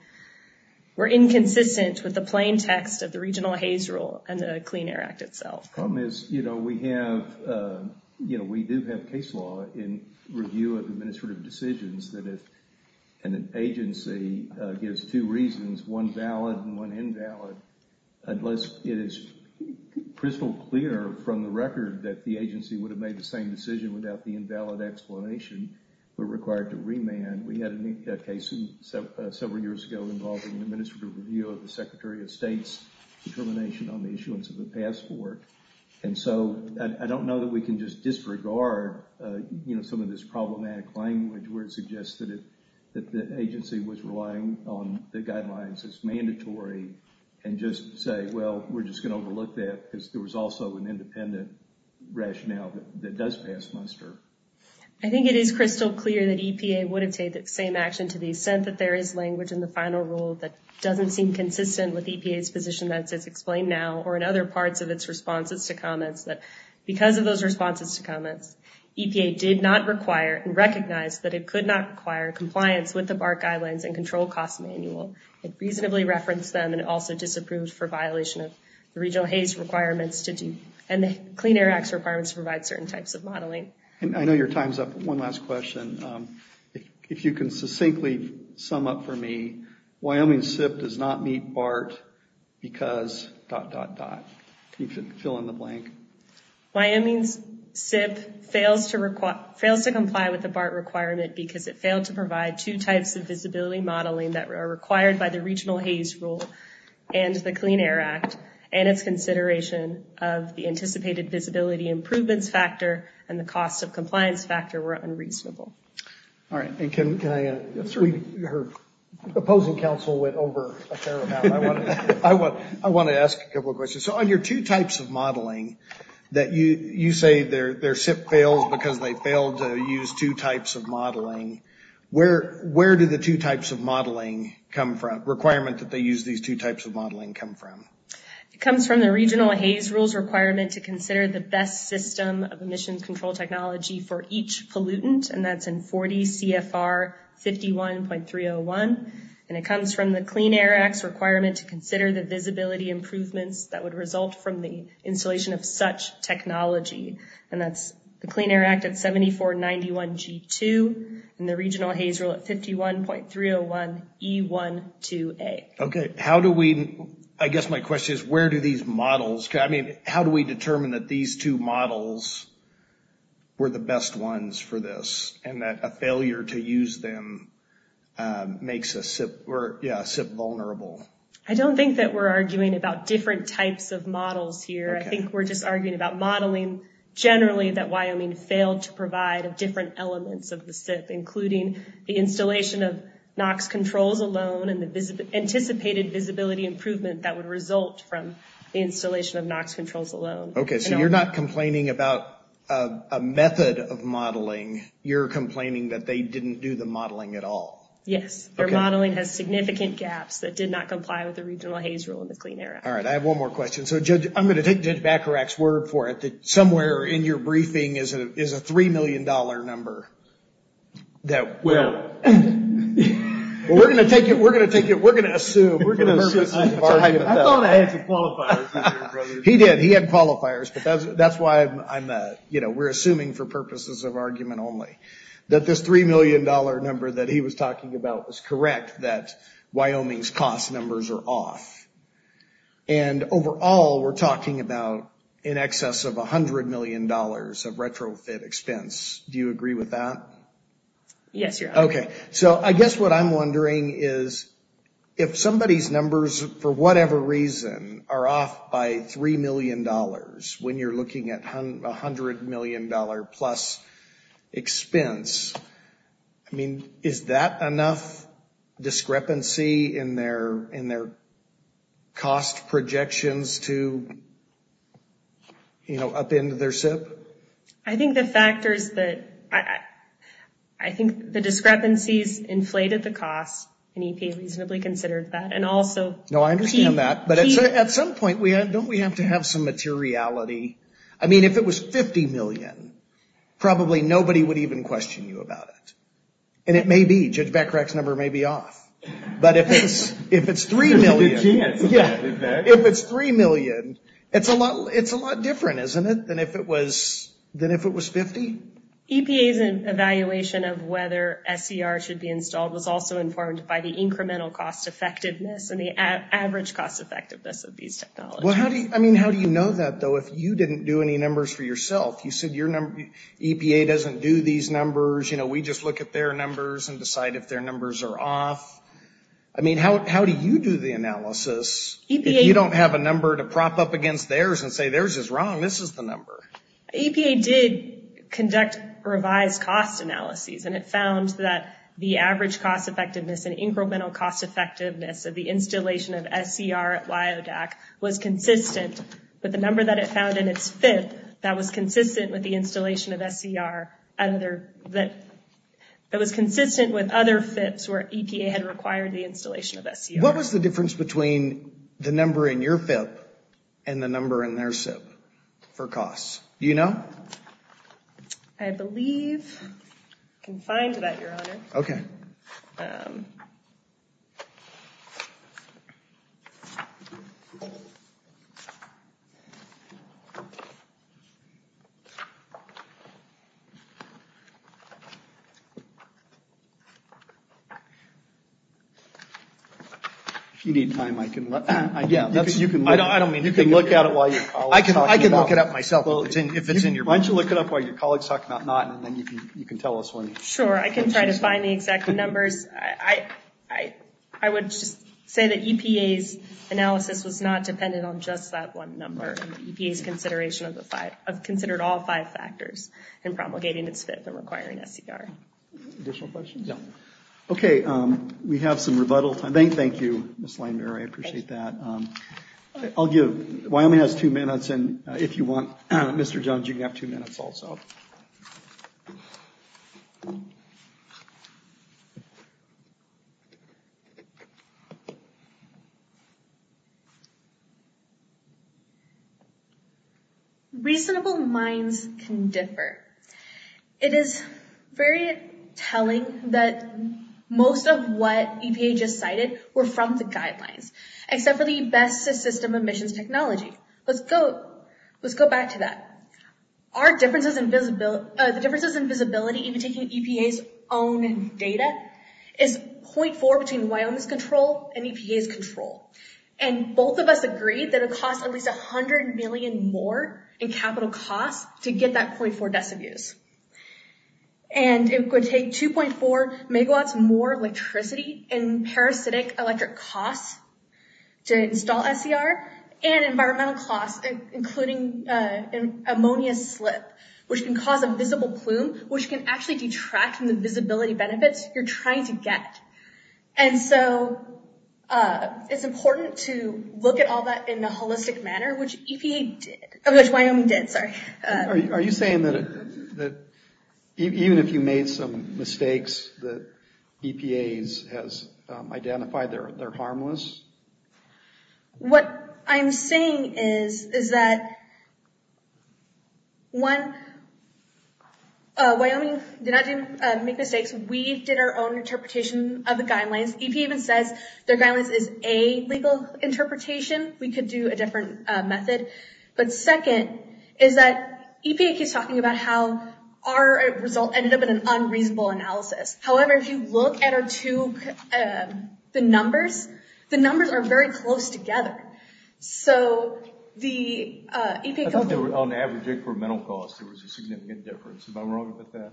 were inconsistent with the plain text of the regional HAZE rule and the Clean Air Act itself. Well, Miss, you know, we have, you know, we do have case law in review of administrative decisions that if an agency gives two reasons, one valid and one invalid, unless it is crystal clear from the record that the agency would have made the same decision without the invalid explanation, we're required to remand. We had a case several years ago involving an administrative review of the Secretary of State's determination on the issuance of a passport. And so I don't know that we can just disregard, you know, some of this problematic language where it suggests that the agency was relying on the guidelines as mandatory and just say, well, we're just going to overlook that because there was also an independent rationale that does pass Munster. I think it is crystal clear that EPA would have taken the same action to the extent that there is language in the final rule that doesn't seem consistent with EPA's position as is explained now or in other parts of its responses to comments. But because of those responses to comments, EPA did not require and recognize that it could not require compliance with the BART guidelines and control cost manual. It reasonably referenced them and also disapproved for violation of regional HAGE requirements and the Clean Air Act's requirements to provide certain types of modeling. And I know your time's up. One last question. If you can succinctly sum up for me, Wyoming SIP does not meet BART because dot, dot, dot. Fill in the blank. Wyoming SIP fails to comply with the BART requirement because it failed to provide two types of visibility modeling that are required by the regional HAGE rule and the Clean Air Act and its consideration of the anticipated visibility improvement factor and the cost of compliance factor were unreasonable. All right. And can I add, her opposing counsel went over a fair amount. I want to ask a couple of questions. So on your two types of modeling that you say their SIP failed because they failed to use two types of modeling, where do the two types of modeling come from, requirements that they use these two types of modeling come from? It comes from the regional HAGE rules requirement to consider the best system of emission control technology for each pollutant, and that's in 40 CFR 51.301. And it comes from the Clean Air Act's requirement to consider the visibility improvements that would result from the installation of such technology. And that's the Clean Air Act at 7491G2 and the regional HAGE rule at 51.301E12A. Okay. How do we, I guess my question is where do these models, I mean, how do we determine that these two models were the best ones for this and that a failure to use them makes a SIP vulnerable? I don't think that we're arguing about different types of models here. I think we're just arguing about modeling generally that Wyoming failed to provide different elements of the SIP, including the installation of NOx controls alone and the anticipated visibility improvement that would result from the installation of NOx controls alone. Okay. So you're not complaining about a method of modeling. You're complaining that they didn't do the modeling at all. Yes. Their modeling has significant gaps that did not comply with the regional HAGE rule in the Clean Air Act. All right. I have one more question. So, Judge, I'm going to take Judge Bacharach's word for it that somewhere in your briefing is a $3 million number that we're going to take it, we're going to assume. I thought I had some qualifiers. He did. He had qualifiers. That's why I'm, you know, we're assuming for purposes of argument only that this $3 million number that he was talking about was off. And overall, we're talking about in excess of $100 million of retrofit expense. Do you agree with that? Yes, Your Honor. Okay. So I guess what I'm wondering is if somebody's numbers, for whatever reason, are off by $3 million when you're looking at $100 million plus expense. I mean, is that enough discrepancy in their cost projections to, you know, up in their set? I think the factor is that I think the discrepancies inflated the cost and EPA reasonably considered that and also... No, I understand that. But at some point, don't we have to have some materiality? I mean, if it was $50 million, probably nobody would even question you about it. And it may be. Judge Beckerach's number may be off. But if it's $3 million, it's a lot different, isn't it, than if it was $50? EPA's evaluation of whether SDR should be installed was also informed by the incremental cost effectiveness and the average cost effectiveness of these technologies. Well, I mean, how do you know that, though, if you didn't do any numbers for yourself? You said EPA doesn't do these numbers. You know, we just look at their numbers and decide if their numbers are off. I mean, how do you do the analysis if you don't have a number to prop up against theirs and say theirs is wrong, this is the number? EPA did conduct revised cost analyses, and it found that the average cost effectiveness and incremental cost effectiveness of the installation of SDR at Liodac was consistent with the number that it found in its FIPS that was consistent with the installation of SDR at other FIPS. It was consistent with other FIPS where EPA had required the installation of SDR. What was the difference between the number in your FIPS and the number in their SIP for costs? Do you know? I believe I can find that, Your Honor. Okay. If you need time, I can look at it while your colleague is talking about it. I can look it up myself. Why don't you look it up while your colleague is talking about it and then you can tell us when. Sure. I can try to find the exact numbers. I would say that EPA's analysis was not dependent on just that one number. EPA's consideration of considered all five factors in promulgating its FIPS and requiring SDR. Additional questions? Yeah. Okay. We have some rebuttal. Thank you, Ms. Langner. I appreciate that. I'll give – Wyoming has two minutes, and if you want, Mr. Jones, you can have two minutes also. Okay. Reasonable minds can differ. It is very telling that most of what EPA just cited were from the guidelines, except for the best-in-system emissions technology. Let's go back to that. Our differences in visibility, even taking EPA's own data, is 0.4 between Wyoming's control and EPA's control. And both of us agree that it costs at least $100 million more in capital costs to get that 0.4 decibels. And it would take 2.4 megawatts more electricity and parasitic electric costs to install SDR and environmental costs, including ammonia slips, which can cause a visible plume, which can actually detract from the visibility benefits you're trying to get. And so it's important to look at all that in a holistic manner, which Wyoming did. Are you saying that even if you made some mistakes, that EPA has identified they're harmless? What I'm saying is that, one, Wyoming did not make mistakes. We did our own interpretation of the guidelines. EPA even said their guidelines is a legal interpretation. We could do a different method. But second is that EPA keeps talking about how our result ended up in an unreasonable analysis. However, if you look at the numbers, the numbers are very close together. I thought they were on average incremental costs. There was a significant difference. Am I wrong about that?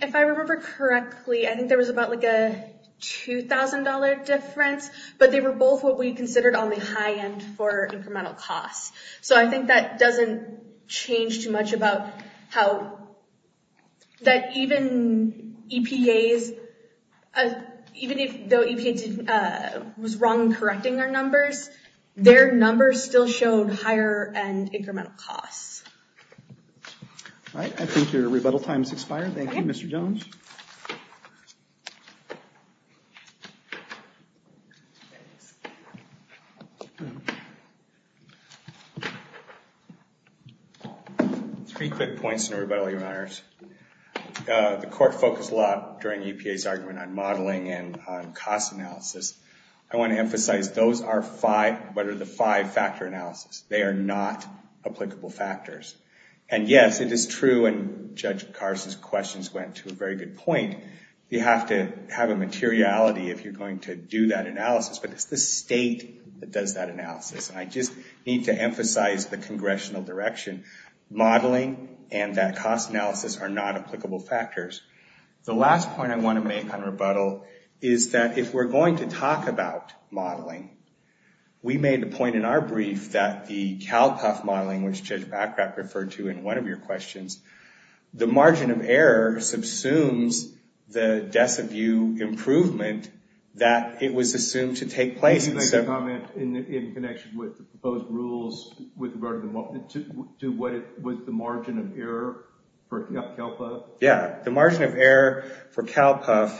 If I remember correctly, I think there was about a $2,000 difference. But they were both what we considered on the high end for incremental costs. So I think that doesn't change too much about how that even EPA, even though EPA was wrong in correcting their numbers, their numbers still showed higher end incremental costs. All right. I think your rebuttal time has expired. Thank you, Mr. Jones. Three quick points in rebuttal, your honors. The court focused a lot during EPA's argument on modeling and cost analysis. I want to emphasize those are five, what are the five factor analysis. They are not applicable factors. And yes, it is true, and Judge Carson's questions went to a very good point, you have to have a materiality if you're going to do that analysis. But it's the state that does that analysis. I just need to emphasize the congressional direction. Modeling and that cost analysis are not applicable factors. The last point I want to make on rebuttal is that if we're going to talk about modeling, we made the point in our brief that the CalCos modeling, which Judge Backpack referred to in one of your questions, the margin of error subsumes the depth of view improvement that it was assumed to take place. Did you make a comment in connection with the proposed rules with the margin of error for CalCos? Yeah. The margin of error for CalCos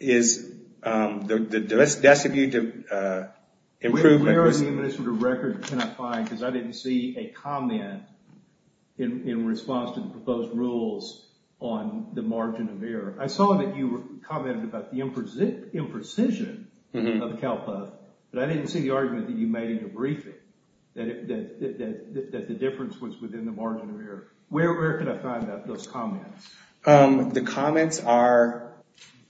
is the depth of view improvement. Where in the administrative record can I find, because I didn't see a comment in response to the proposed rules on the margin of error. I saw that you commented about the imprecision of CalCos, but I didn't see the argument that you made in the briefing that the difference was within the margin of error. Where can I find those comments? The comments are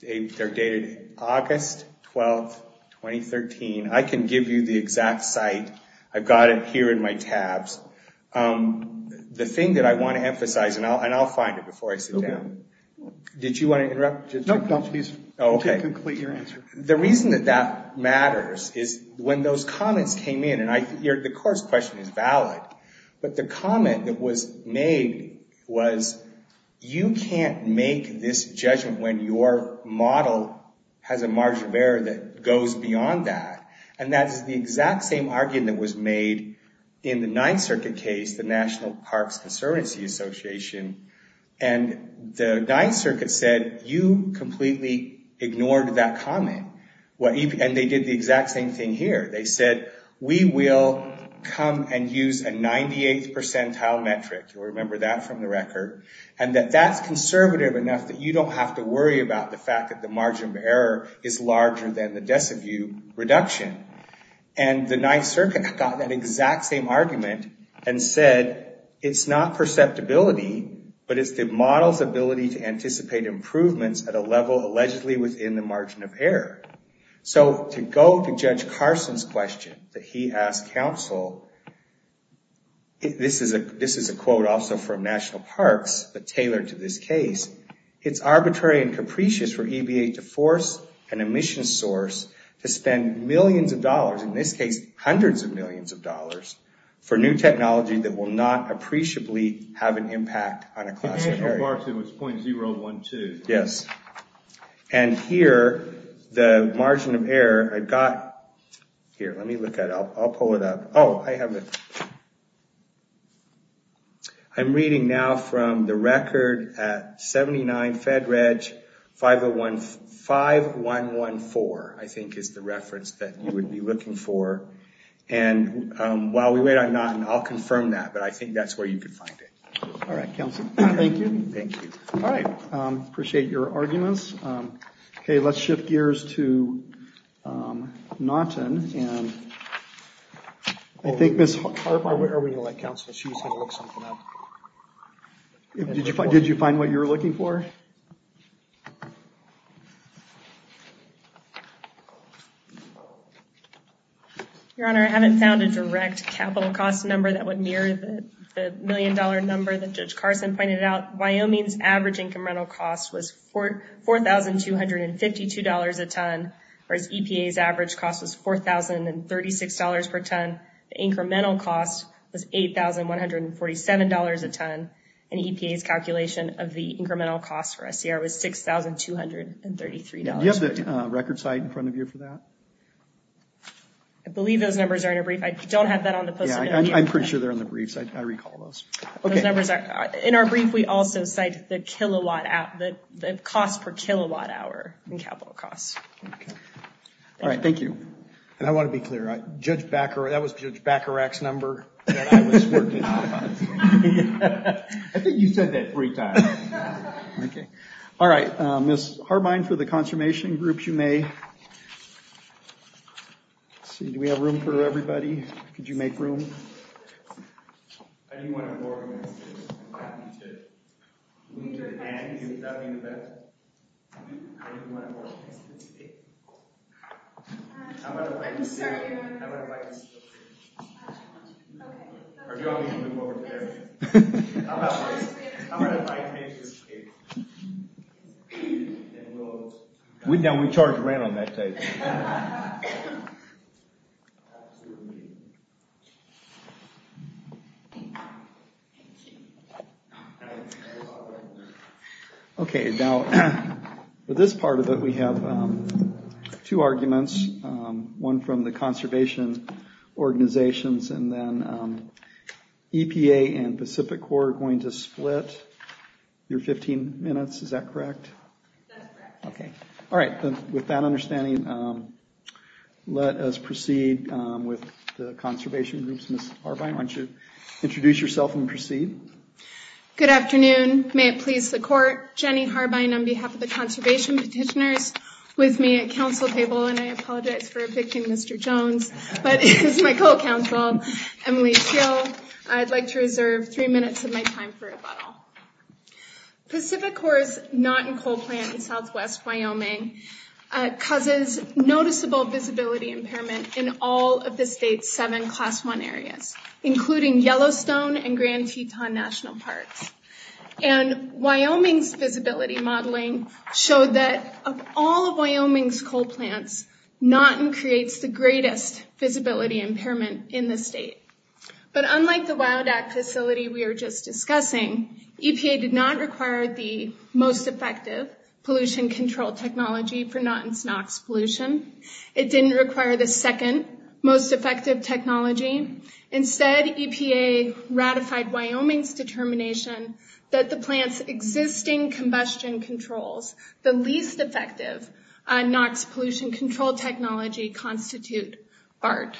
dated August 12, 2013. I can give you the exact site. I've got it here in my tabs. The thing that I want to emphasize, and I'll find it before I sit down, did you want to interrupt? No, please. Okay. The reason that that matters is when those comments came in, and the course question is valid, but the comment that was made was, you can't make this judgment when your model has a margin of error that goes beyond that. And that is the exact same argument that was made in the Ninth Circuit case, the National Park Conservancy Association, and the Ninth Circuit said, you completely ignored that comment. And they did the exact same thing here. They said, we will come and use a 98th percentile metric, remember that from the record, and that that's conservative enough that you don't have to worry about the fact that the margin of error is larger than the death of you reduction. And the Ninth Circuit stopped that exact same argument and said, it's not perceptibility, but it's the model's ability to anticipate improvements at a level allegedly within the margin of error. So to go to Judge Carson's question, that he asked counsel, this is a quote also from National Park, but tailored to this case, it's arbitrary and capricious for EBA to force an emission source to spend millions of dollars, in this case, hundreds of millions of dollars, for new technology that will not appreciably have an impact on a classroom area. It was .012. Yes. And here, the margin of error, I've got, here, let me look at it. I'll pull it up. Oh, I have it. I'm reading now from the record at 79 FEDREG 5114, I think is the reference that you would be looking for. And while we wait, I'll confirm that, but I think that's where you can find it. All right, thank you. Thank you. All right. Appreciate your arguments. Okay, let's shift gears to Naughton. Did you find what you were looking for? Your Honor, I haven't found a direct capital cost number that would mirror the million dollar number that Judge Carson pointed out. Wyoming's average income rental cost was $4,252 a ton, the incremental cost was $8,147 a ton, and EPA's calculation of the incremental cost for SDR was $6,233. Do you have the record site in front of you for that? I believe those numbers are in a brief. I don't have that on the phone. Yeah, I'm pretty sure they're in the brief. I recall those. Okay. In our brief, we also cite the kilowatt hour, the cost per kilowatt hour in capital costs. All right, thank you. And I want to be clear, Judge Bacharach, that was Judge Bacharach's number. I think you said that three times. Okay. All right, Ms. Harbein, for the confirmation groups, you may. Let's see, do we have room for everybody? Could you make room? I'm going to invite you to speak. I'm going to invite you to speak. Our judges will be more prepared. I'm going to invite you to speak. We charge railing that day. Okay, now, for this part of it, we have two arguments. One from the conservation organizations, and then EPA and Pacific Corps are going to split your 15 minutes. Is that correct? That's correct. Okay. All right, with that understanding, let us proceed with the conservation groups. Ms. Harbein, why don't you introduce yourself and proceed? Good afternoon. May it please the court, Jenny Harbein on behalf of the conservation petitioners with me at council table, and I apologize for a victim, Mr. Jones, but this is my co-counsel, Emily Schill. I'd like to reserve three minutes of my time for rebuttal. Pacific Corps' not-in-coal plant in southwest Wyoming causes noticeable visibility impairment in all of the state's seven class one areas, including Yellowstone and Grand Teton National Parks, and Wyoming's visibility modeling showed that of all of Wyoming's coal plants, Notton creates the greatest visibility impairment in the state, but unlike the Wild Act facility we were just discussing, EPA did not require the most effective pollution control technology for Notton's NOx pollution. It didn't require the second most effective technology. Instead, EPA ratified Wyoming's determination that the plant's existing combustion controls, the least effective NOx pollution control technology constitute BART.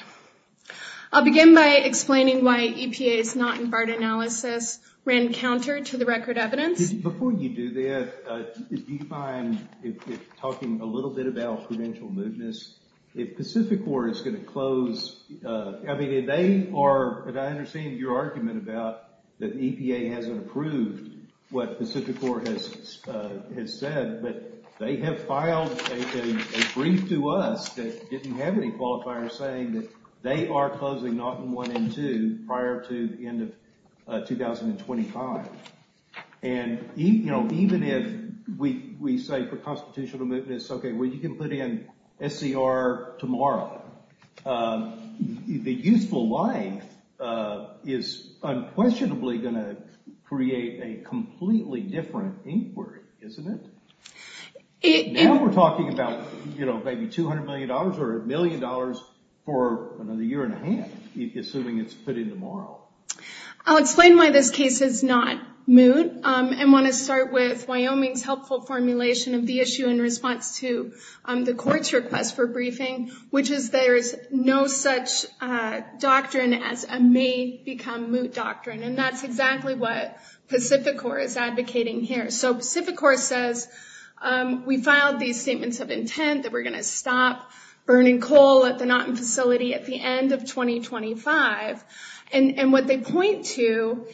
I'll begin by explaining why EPA's not-in-BART analysis ran counter to the record evidence. Before you do that, if you find, talking a little bit about prudential movements, if Pacific Corps is going to close, I mean, they are, as I understand your argument about that EPA has approved what Pacific Corps has said, that they have filed a brief to us that didn't have any qualifiers saying that they are closing Notton 1 and 2 prior to the end of 2025. And, you know, even if we say for constitutional movements, okay, well, you can put in SCR tomorrow, the useful life is unquestionably going to create a completely different inquiry, isn't it? Now we're talking about, you know, maybe $200 million or a million dollars for a year and a half, assuming it's put in tomorrow. I'll explain why this case is not moot and want to start with Wyoming's helpful formulation of the issue in response to the court's request for briefing, which is there's no such doctrine as a may become moot doctrine. And that's exactly what Pacific Corps is advocating here. So Pacific Corps says, we filed these statements of intent that we're going to stop burning coal at the Notton facility at the end of 2025. And what they point to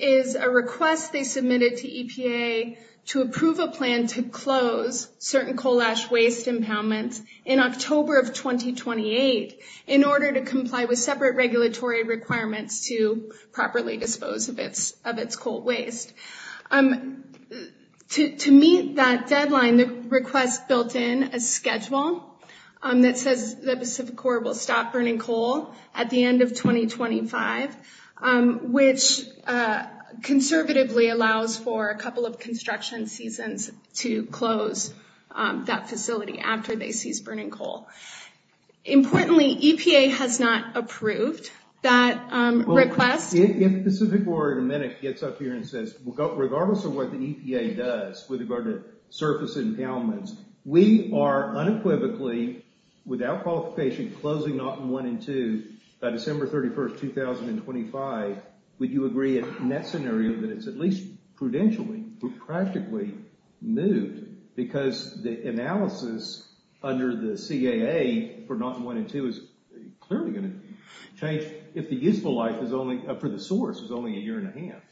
is a request they submitted to EPA to approve a plan to close certain coal ash waste impoundments in October of 2028, in order to comply with separate regulatory requirements to properly dispose of its coal waste. To meet that deadline, the request built in a schedule that says the Pacific Corps will stop burning coal at the end of 2025, which conservatively allows for a couple of construction seasons to close that facility after they seize burning coal. Importantly, EPA has not approved that request. Well, Pacific Corps in a minute gets up here and says, regardless of what the EPA does with regard to surface impoundments, we are unequivocally, without qualification, closing Notton 1 and 2 by December 31st, 2025. Would you agree it's necessary that it's at least prudentially, practically new? Because the analysis under the CAA for Notton 1 and 2 is clearly going to change if the useful life for the source is only a year and a half.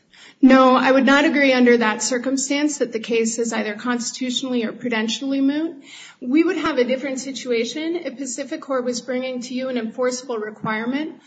No, I would not agree under that circumstance, that the case is either constitutionally or prudentially new. We would have a different situation if Pacific Corps was bringing to you an enforceable requirement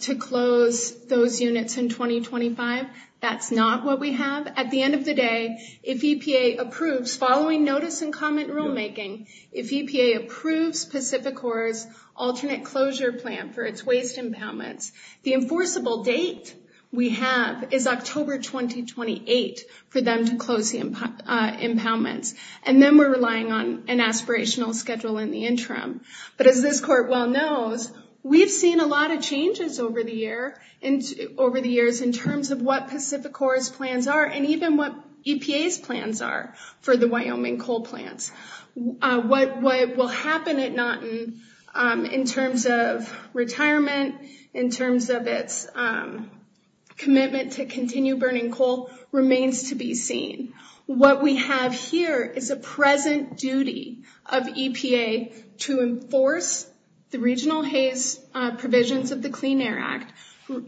to close those units in 2025. That's not what we have. At the end of the day, if EPA approves, following notice and comment rulemaking, if EPA approves Pacific Corps' alternate closure plan for its waste impoundments, the enforceable date we have is October 2028 for them to close the impoundments. And then we're relying on an aspirational schedule in the interim. But as this court well knows, we've seen a lot of changes over the years in terms of what Pacific Corps plans are and even what EPA's plans are for the Wyoming coal plant. What will happen at Notton in terms of retirement, in terms of its commitment to continue burning coal, remains to be seen. What we have here is a present duty of EPA to enforce the regional haze provisions of the Clean Air Act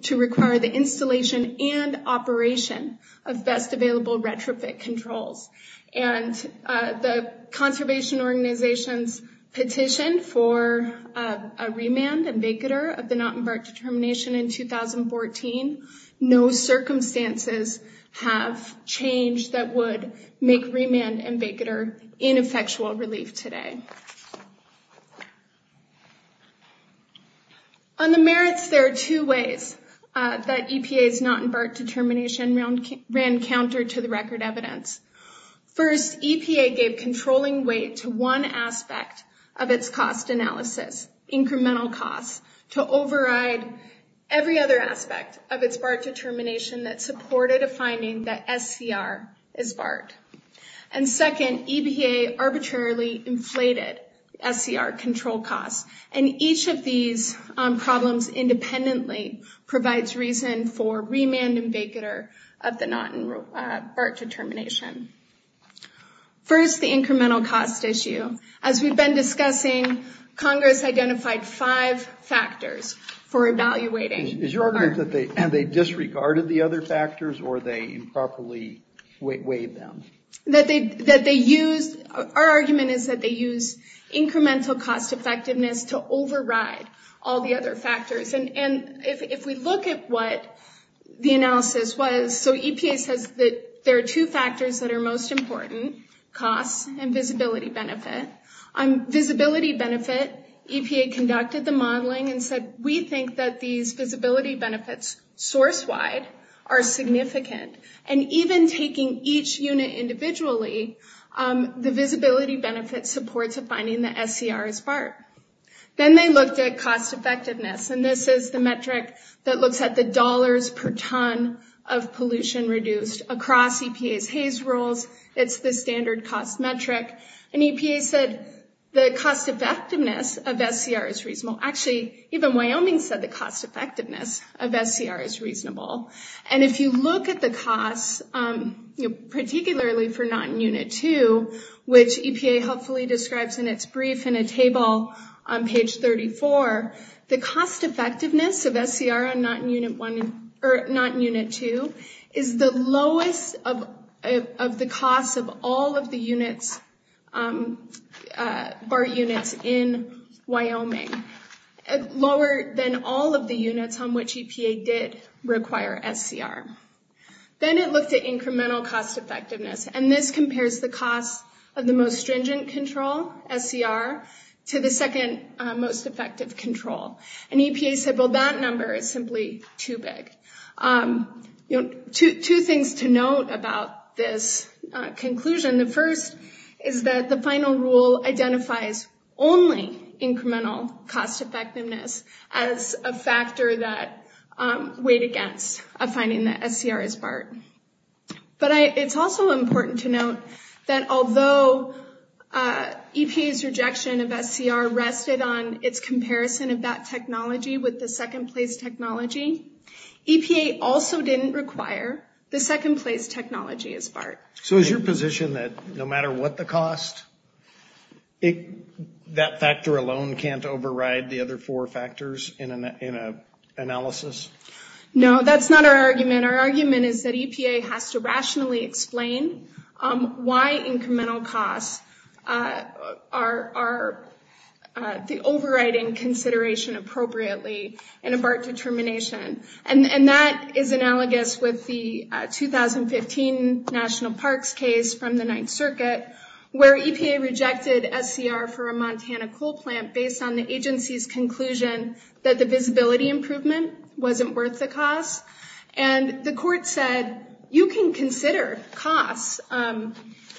to require the installation and operation of best available retrofit controls. And the conservation organization's petition for a remand and vacater of the Notton BART determination in 2014, no circumstances have changed that would make remand and vacater ineffectual relief today. On the merits, there are two ways that EPA's Notton BART determination ran counter to the record evidence. First, EPA gave controlling weight to one aspect of its cost analysis, incremental costs, to override every other aspect of its BART determination that supported a finding that SCR is BART. And second, EPA arbitrarily inflated SCR control costs. And each of these problems independently provides reason for remand and vacater of the Notton BART determination. First, the incremental cost issue. As we've been discussing, Congress identified five factors for evaluating. And they disregarded the other factors or they improperly weighed them? Our argument is that they used incremental cost effectiveness to override all the other factors. And if we look at what the analysis was, so EPA says that there are two factors that are most important, cost and visibility benefit. On visibility benefit, EPA conducted the modeling and said, we think that these visibility benefits source-wide are significant. And even taking each unit individually, the visibility benefit supports a finding that SCR is BART. Then they looked at cost effectiveness. And this is the metric that looks at the dollars per ton of pollution reduced across EPA's HAZE rules. It's the standard cost metric. And EPA said the cost effectiveness of SCR is reasonable. Actually, even Wyoming said the cost effectiveness of SCR is reasonable. And if you look at the costs, particularly for Not-in-Unit-2, which EPA helpfully describes in its brief in a table on page 34, the cost effectiveness of SCR on Not-in-Unit-1 or Not-in-Unit-2 is the lowest of the cost of all of the units, BART units in Wyoming. Lower than all of the units on which EPA did require SCR. Then it looked at incremental cost effectiveness. And this compares the cost of the most stringent control, SCR, to the second most effective control. And EPA said, well, that number is simply too big. Two things to note about this conclusion. The first is that the final rule identifies only incremental cost effectiveness as a factor that weighed against a finding that SCR is BART. But it's also important to note that although EPA's rejection of SCR rested on its comparison of that technology with the second place technology, EPA also didn't require the second place technology as BART. So is your position that no matter what the cost, that factor alone can't override the other four factors in an analysis? No, that's not our argument. Our argument is that EPA has to rationally explain why incremental costs are the overriding consideration appropriately in a BART determination. And that is analogous with the 2015 National Parks case from the Ninth Circuit where EPA rejected SCR for a Montana coal plant based on the agency's conclusion that the visibility improvement wasn't worth the cost. And the court said you can consider costs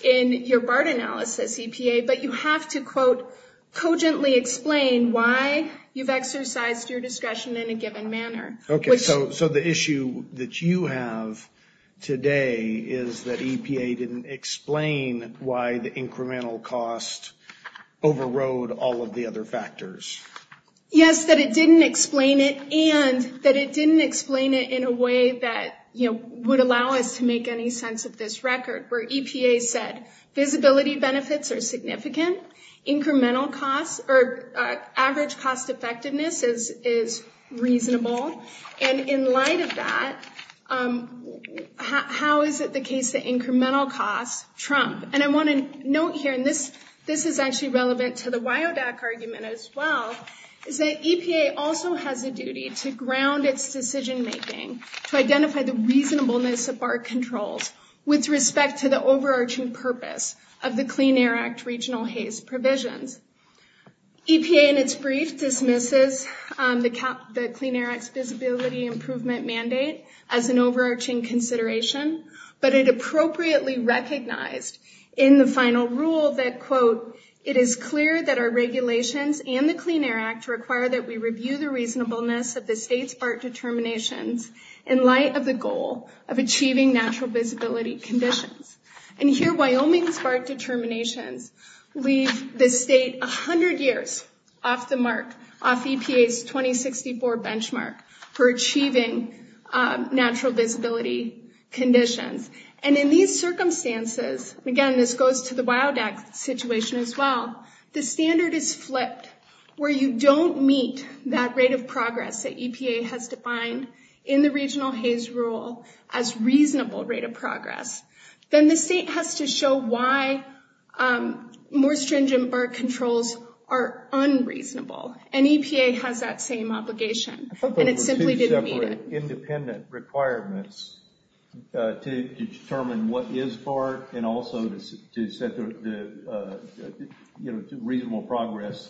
in your BART analysis, EPA, but you have to, quote, cogently explain why you've exercised your discretion in a given manner. Okay, so the issue that you have today is that EPA didn't explain why the incremental cost overrode all of the other factors. Yes, that it didn't explain it and that it didn't explain it in a way that, you know, would allow us to make any sense of this record. And I want to note here, and this is actually relevant to the WYODAC argument as well, is that EPA also has a duty to ground its decision-making, to identify the reasonableness of BART controls with respect to the And that is a duty that EPA has. to the overarching purpose of the Clean Air Act regional HASE provision. EPA in its brief dismisses the Clean Air Act's visibility improvement mandate as an overarching consideration, but it appropriately recognized in the final rule that, quote, And here Wyoming's BART determination leaves the state 100 years off the mark, off EPA's 2064 benchmark for achieving natural visibility conditions. And in these circumstances, again, this goes to the WYODAC situation as well, the standard is flipped where you don't meet that rate of progress that EPA has defined in the regional HASE rule as reasonable rate of progress. Then the state has to show why more stringent BART controls are unreasonable. And EPA has that same obligation. But it simply didn't meet it. Independent requirements to determine what is BART and also to set the, you know, reasonable progress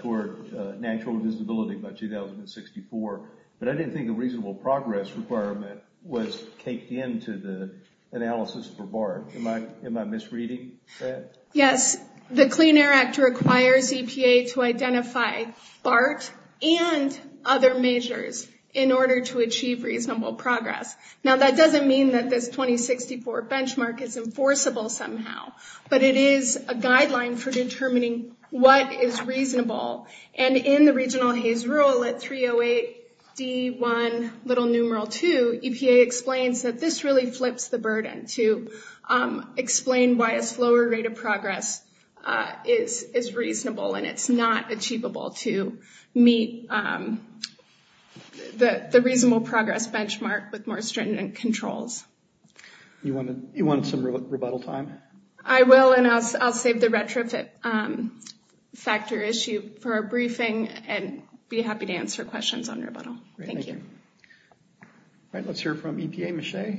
toward natural visibility by 2064. But I didn't think a reasonable progress requirement was caked into the analysis for BART. Am I misreading that? Yes. The Clean Air Act requires EPA to identify BART and other measures in order to achieve reasonable progress. Now that doesn't mean that the 2064 benchmark is enforceable somehow, but it is a guideline for determining what is reasonable. And in the regional HASE rule at 308C1, little numeral 2, EPA explains that this really flips the burden to explain why a slower rate of progress is reasonable and it's not achievable to meet the reasonable progress benchmark with more stringent controls. You want some rebuttal time? I will and I'll take the retro factor issue for a briefing and be happy to answer questions on rebuttal. Thank you. Great. Thank you. All right. Let's hear from EPA. Michelle?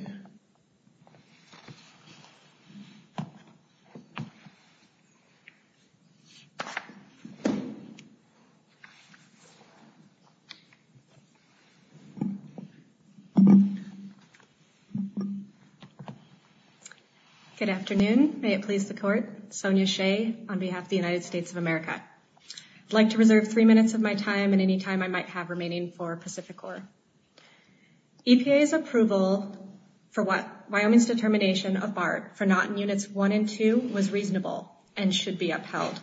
Good afternoon. May it please the Court. Sonia Shea on behalf of the United States of America. I'd like to reserve three minutes of my time and any time I might have remaining for Pacific Core. EPA's approval for Wyoming's determination of BART for not in Units 1 and 2 was reasonable and should be upheld.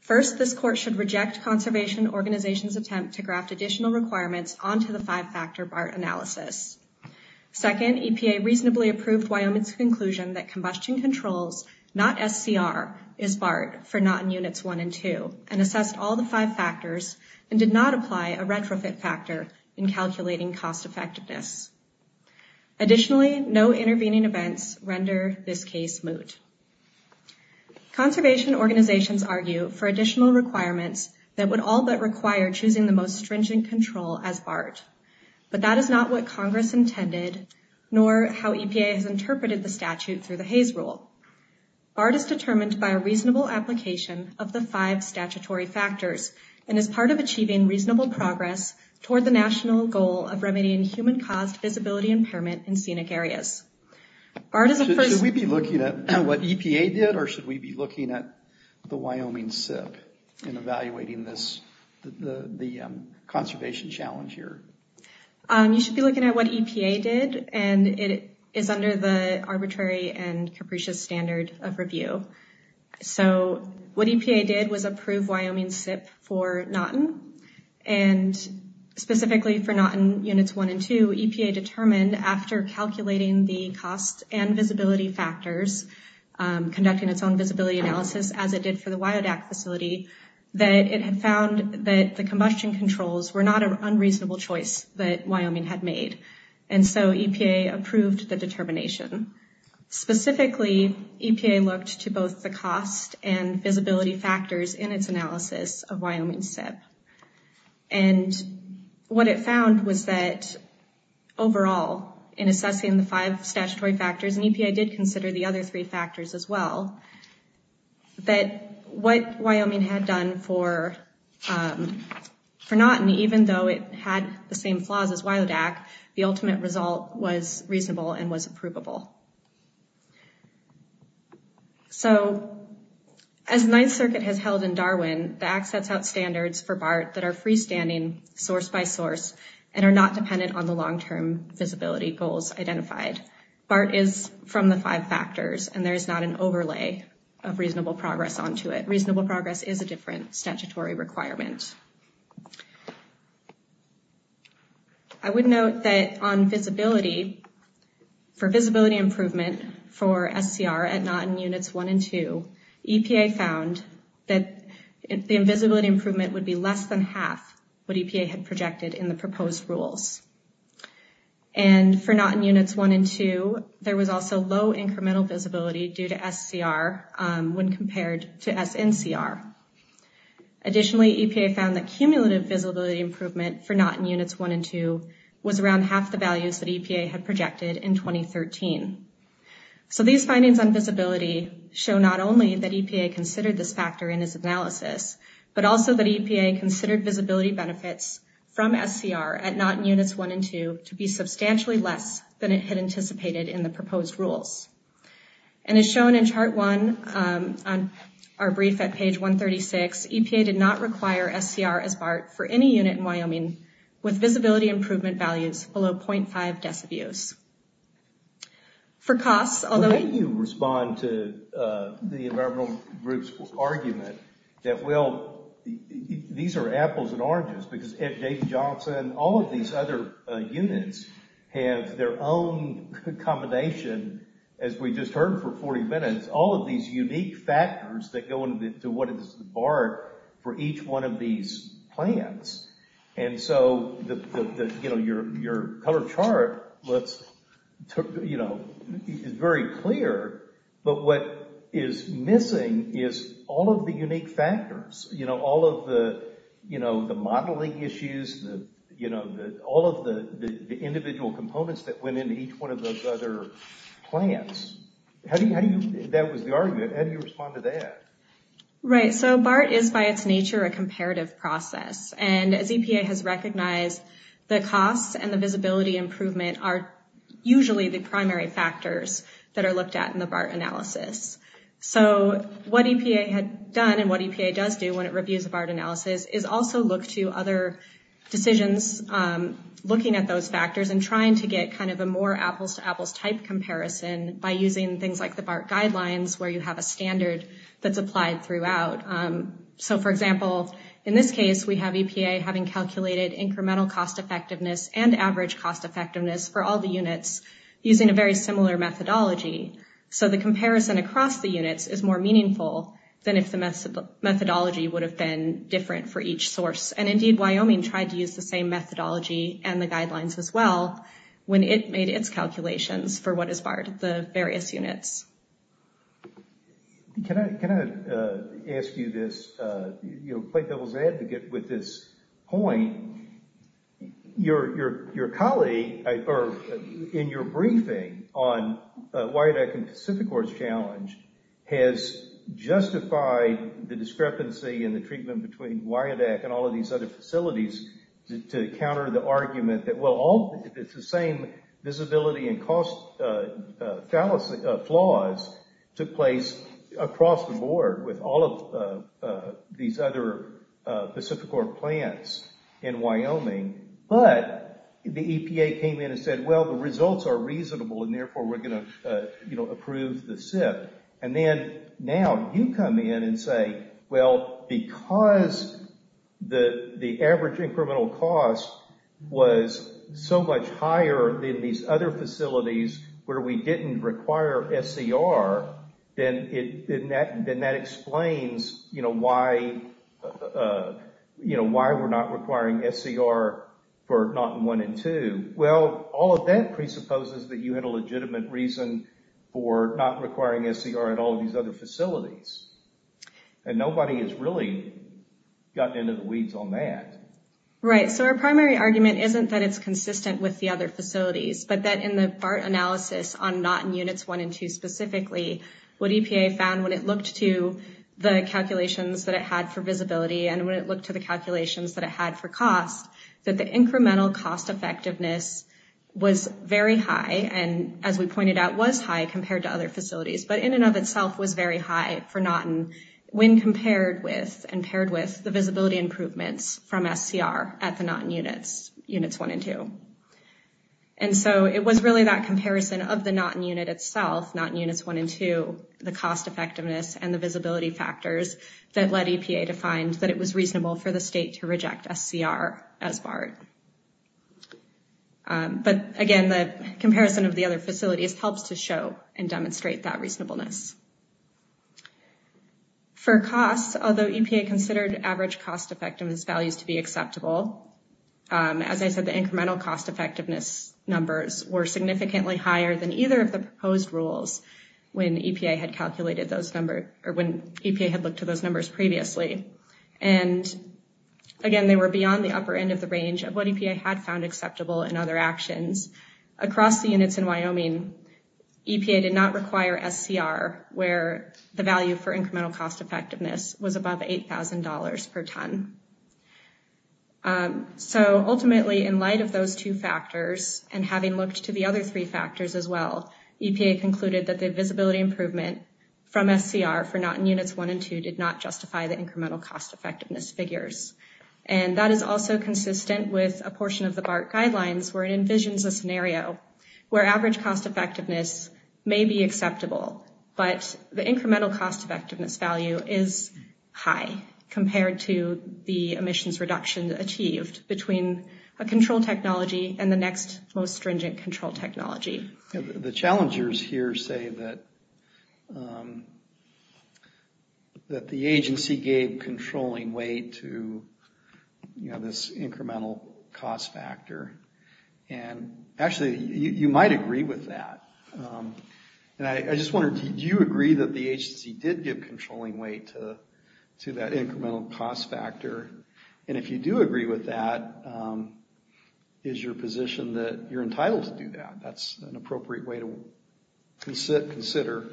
First, this Court should reject Conservation Organization's attempt to graft additional requirements onto the five-factor BART analysis. Second, EPA reasonably approved Wyoming's conclusion that combustion controls, not SCR, is BART for not in Units 1 and 2, and assessed all the five factors and did not apply a retrofit factor in calculating cost effectiveness. Additionally, no intervening events render this case moot. Conservation Organizations argue for additional requirements that would all but require choosing the most stringent control as BART, but that is not what Congress intended nor how EPA has interpreted the statute through the Hays Rule. BART is determined by a reasonable application of the five statutory factors and is part of achieving reasonable progress toward the national goal of remedying human cost, visibility, and permit in scenic areas. Should we be looking at what EPA did, or should we be looking at the Wyoming SIP in evaluating the conservation challenge here? You should be looking at what EPA did, and it is under the arbitrary and capricious standards of review. What EPA did was approve Wyoming's SIP for not in, and specifically for not in Units 1 and 2, EPA determined after calculating the cost and visibility factors, conducting its own visibility analysis as it did for the WIODAC facility, that it had found that the combustion controls were not an unreasonable choice that Wyoming had made, and so EPA approved the determination. Specifically, EPA looked to both the cost and visibility factors in its analysis of Wyoming SIP, and what it found was that overall, in assessing the five statutory factors, and EPA did consider the other three factors as well, that what Wyoming had done for not in, even though it had the same flaws as WIODAC, the ultimate result was reasonable and was approvable. So, as Ninth Circuit has held in Darwin, the Act sets out standards for BART that are freestanding, source by source, and are not dependent on the long-term visibility goals identified. BART is from the five factors, and there is not an overlay of reasonable progress onto it. Reasonable progress is a different statutory requirement. I would note that on visibility, for visibility improvement for SCR at not in Units 1 and 2, EPA found that the invisibility improvement would be less than half what EPA had projected in the proposed rules. And for not in Units 1 and 2, there was also low incremental visibility due to SCR when compared to SNCR. Additionally, EPA found that cumulative visibility improvement for not in Units 1 and 2 was around half the values that EPA had projected in 2013. So, these findings on visibility show not only that EPA considered this factor in its analysis, but also that EPA considered visibility benefits from SCR at not in Units 1 and 2 to be substantially less than it had anticipated in the proposed rules. And as shown in chart one, our brief at page 136, EPA did not require SCR as BART for any unit in Wyoming with visibility improvement values below 0.5 decibels. For COPS, although... I do respond to the environmental groups' argument that, well, these are apples and oranges, because David Johnson, all of these other units have their own combination, as we just heard for 40 minutes, all of these unique factors that go into what is BART for each one of these plans. And so, your color chart is very clear, but what is missing is all of the unique factors, all of the modeling issues, all of the individual components that went into each one of those other plans. That was the argument. How do you respond to that? Right. So, BART is, by its nature, a comparative process. And as EPA has recognized, the COPS and the visibility improvement are usually the primary factors that are looked at in the BART analysis. So, what EPA has done and what EPA does do when it reviews the BART analysis is also look to other decisions, looking at those factors and trying to get kind of a more apples-to-apples type comparison by using things like the BART guidelines, where you have a standard that's applied throughout. So, for example, in this case, we have EPA having calculated incremental cost effectiveness and average cost effectiveness for all the units using a very similar methodology. So, the comparison across the units is more meaningful than if the methodology would have been different for each source. And, indeed, Wyoming tried to use the same methodology and the guidelines as well when it made its calculations for what is BART, the various units. Can I ask you this? You know, quite a little bit to get with this point. Your colleague, in your briefing on the Wired Act and Pacific Works Challenge, has justified the discrepancy in the treatment between Wired Act and all of these other facilities to counter the argument that, well, it's the same visibility and cost flaws took place across the board with all of these other Pacific Works plans in Wyoming. But the EPA came in and said, well, the results are reasonable and, therefore, we're going to, you know, approve the SIP. And then, now, you come in and say, well, because the average incremental cost was so much higher in these other facilities where we didn't require SCR, then that explains, you know, why we're not requiring SCR for Norton 1 and 2. Well, all of that presupposes that you had a legitimate reason for not requiring SCR at all of these other facilities. And nobody has really gotten into the weeds on that. Right. So our primary argument isn't that it's consistent with the other facilities, but that in the BART analysis on Norton units 1 and 2 specifically, what EPA found when it looked to the calculations that it had for visibility and when it looked to the calculations that it had for cost, that the incremental cost effectiveness was very high and, as we pointed out, was high compared to other facilities. But in and of itself was very high for Norton when compared with and paired with the visibility improvements from SCR at the Norton units, units 1 and 2. And so it was really that comparison of the Norton unit itself, Norton units 1 and 2, the cost effectiveness and the visibility factors, that led EPA to find that it was reasonable for the state to reject SCR as BART. But, again, the comparison of the other facilities helps to show and demonstrate that reasonableness. For cost, although EPA considered average cost effectiveness values to be acceptable, as I said, the incremental cost effectiveness numbers were significantly higher than either of the proposed rules when EPA had calculated those numbers or when EPA had looked at those numbers previously. And, again, they were beyond the upper end of the range of what EPA had found acceptable in other actions. Across the units in Wyoming, EPA did not require SCR where the value for incremental cost effectiveness was above $8,000 per ton. So, ultimately, in light of those two factors and having looked to the other three factors as well, EPA concluded that the visibility improvement from SCR for Norton units 1 and 2 did not justify the incremental cost effectiveness figures. And that is also consistent with a portion of the BART guidelines where it envisions a scenario where average cost effectiveness may be acceptable, but the incremental cost effectiveness value is high compared to the emissions reduction achieved between a control technology and the next most stringent control technology. The challengers here say that the agency gave controlling weight to, you know, this incremental cost factor. And, actually, you might agree with that. And I just wonder, do you agree that the agency did give controlling weight to that incremental cost factor? And if you do agree with that, is your position that you're entitled to do that? That's an appropriate way to consider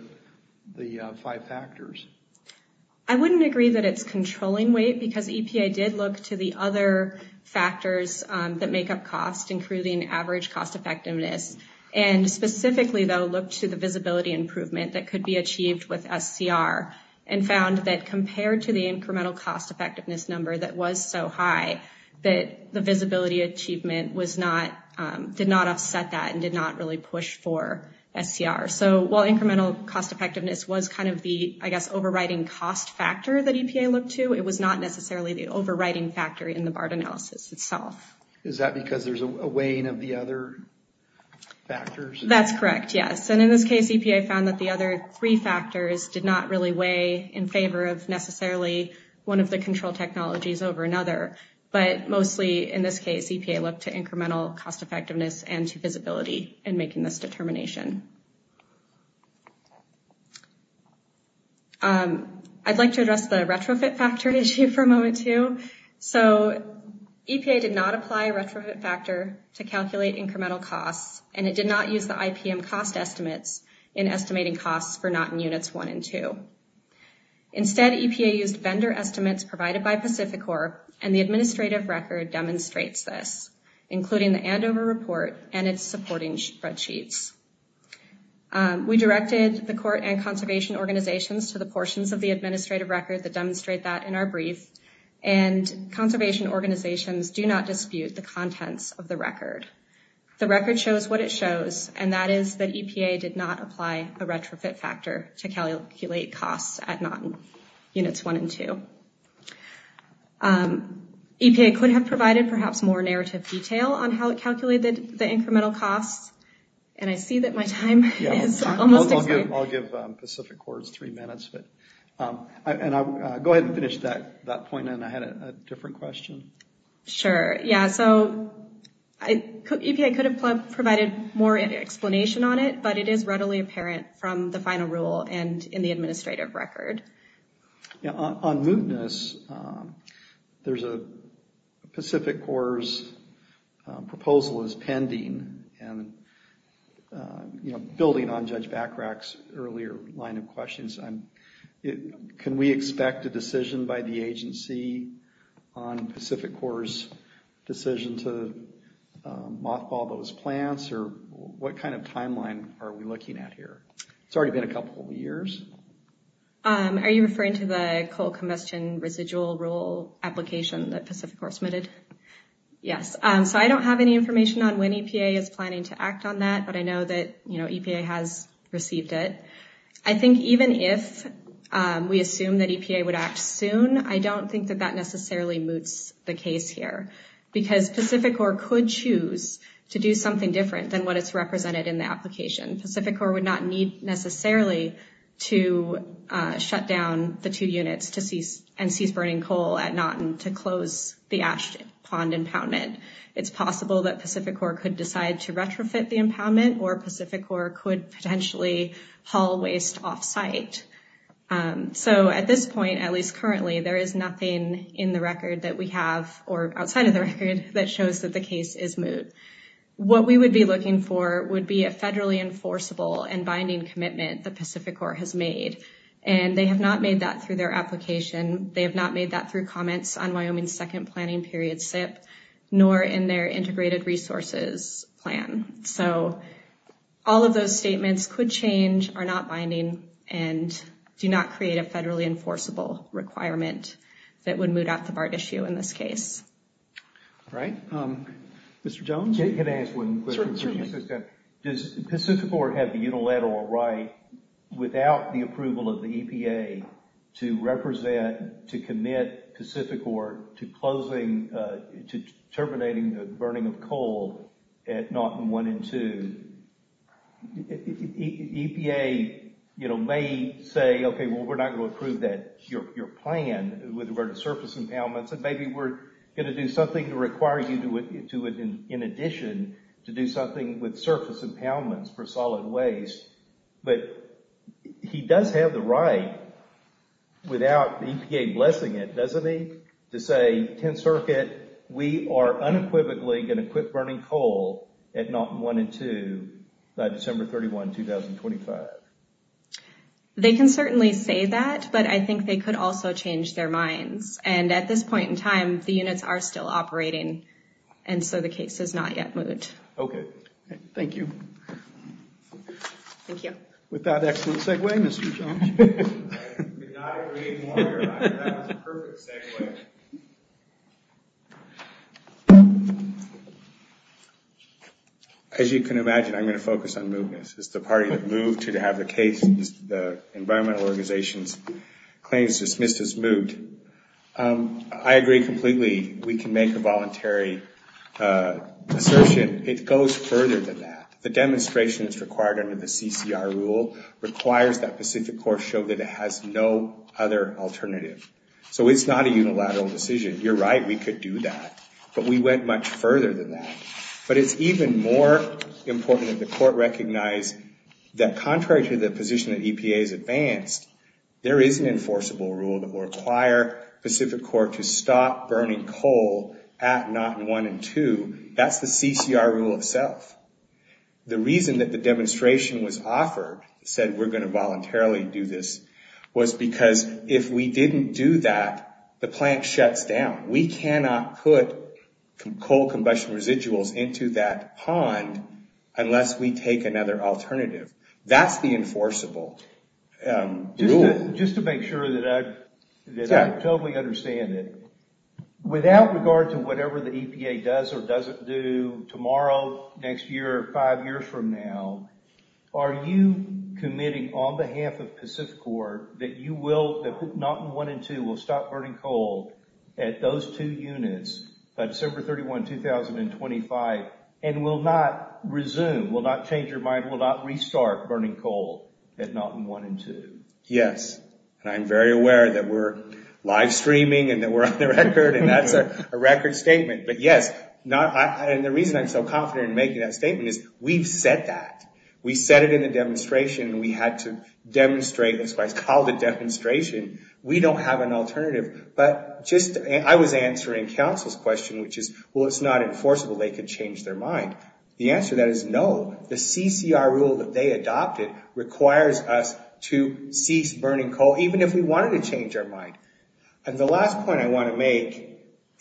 the five factors. I wouldn't agree that it's controlling weight because EPA did look to the other factors that make up cost, including average cost effectiveness. And, specifically, they looked to the visibility improvement that could be achieved with SCR and found that compared to the incremental cost effectiveness number that was so high that the visibility achievement did not offset that and did not really push for SCR. So, while incremental cost effectiveness was kind of the, I guess, overriding cost factor that EPA looked to, it was not necessarily the overriding factor in the BART analysis itself. Is that because there's a weighing of the other factors? That's correct, yes. And, in this case, EPA found that the other three factors did not really weigh in favor of necessarily one of the control technologies over another. But, mostly, in this case, EPA looked to incremental cost effectiveness and to visibility in making this determination. I'd like to address the retrofit factor issue for a moment, too. So, EPA did not apply a retrofit factor to calculate incremental costs, and it did not use the IPM cost estimate in estimating costs for not in Units 1 and 2. Instead, EPA used vendor estimates provided by Pacificorp, and the administrative record demonstrates this, including the Andover report and its supporting spreadsheets. We directed the court and conservation organizations to the portions of the administrative record that demonstrate that in our brief, and conservation organizations do not dispute the contents of the record. The record shows what it shows, and that is that EPA did not apply the retrofit factor to calculate costs at not in Units 1 and 2. EPA could have provided perhaps more narrative detail on how it calculated the incremental costs, and I see that my time is almost up. I'll give Pacificorp three minutes, and I'll go ahead and finish that point, and I had a different question. Sure, yeah. So, EPA could have provided more explanation on it, but it is readily apparent from the final rule and in the administrative record. On mootness, there's a Pacificorp's proposal that's pending, and building on Judge Bachrach's earlier line of questions, can we expect a decision by the agency on Pacificorp's decision to mothball those plants, or what kind of mothballing? It's already been a couple of years. Are you referring to the coal combustion residual rule application that Pacificorp submitted? Yes. So, I don't have any information on when EPA is planning to act on that, but I know that, you know, EPA has received it. I think even if we assume that EPA would act soon, I don't think that that necessarily moots the case here, because Pacificorp could choose to do something different than what is represented in the application. Pacificorp would not need necessarily to shut down the two units and cease burning coal at Naughton to close the Ash Pond impoundment. It's possible that Pacificorp could decide to retrofit the impoundment, or Pacificorp could potentially haul waste off-site. So, at this point, at least currently, there is nothing in the record that we have, or outside of the record, that shows that the case is moot. What we would be looking for would be a federally enforceable and binding commitment that Pacificorp has made, and they have not made that through their application. They have not made that through comments on Wyoming's second planning period SIP, nor in their integrated resources plan. So, all of those statements could change, are not binding, and do not create a federally enforceable requirement that would moot out the BART issue in this case. All right. Mr. Jones? Can I ask one question? Sure, Jim. Does Pacificorp have the unilateral right, without the approval of the EPA, to represent, to commit Pacificorp to closing, to terminating the burning of coal at Naughton 1 and 2? EPA, you know, may say, okay, well, we're not going to approve that. Your plan, with regard to surface impoundments, maybe we're going to do something to require you to do it in addition, to do something with surface impoundments for solid waste. But he does have the right, without EPA blessing it, doesn't he, to say, 10th Circuit, we are unequivocally going to quit burning coal at Naughton 1 and 2 by December 31, 2025. They can certainly say that, but I think they could also change their minds. And at this point in time, the units are still operating, and so the case is not yet moved. Okay. Thank you. Thank you. With that, excellent segue, Mr. Jones. I could not agree more. That was perfect, anyway. As you can imagine, I'm going to focus on movements. It's the party that moved to have the case, the environmental organization claims it's Mrs. Moot. I agree completely. We can make a voluntary assertion. It goes further than that. The demonstration is required under the CCR rule, requires that Pacific Corps show that it has no other alternative. So it's not a unilateral decision. You're right, we could do that. But we went much further than that. But it's even more important that the court recognize that contrary to the position that EPA has advanced, there is an enforceable rule that will require Pacific Corps to stop burning coal at knot one and two. That's the CCR rule itself. The reason that the demonstration was offered, said we're going to voluntarily do this, was because if we didn't do that, the plant shuts down. We cannot put coal combustion residuals into that pond unless we take another alternative. That's the enforceable rule. Just to make sure that I totally understand it, without regard to whatever the EPA does or doesn't do tomorrow, next year, or five years from now, are you committing on behalf of Pacific Corps that you will, that knot one and two will stop burning coal at those two units by December 31, 2025, and will not resume, will not change your mind, will not restart burning coal at knot one and two? Yes. I'm very aware that we're live streaming and that we're on the record, and that's a record statement. But yes. And the reason I'm so confident in making that statement is we've said that. We've said it in the demonstration, and we have to demonstrate this by call the demonstration. We don't have an alternative. But I was answering counsel's question, which is, well, it's not enforceable. They could change their mind. The answer to that is no. The CCR rule that they adopted requires us to cease burning coal, even if we wanted to change our mind. And the last point I want to make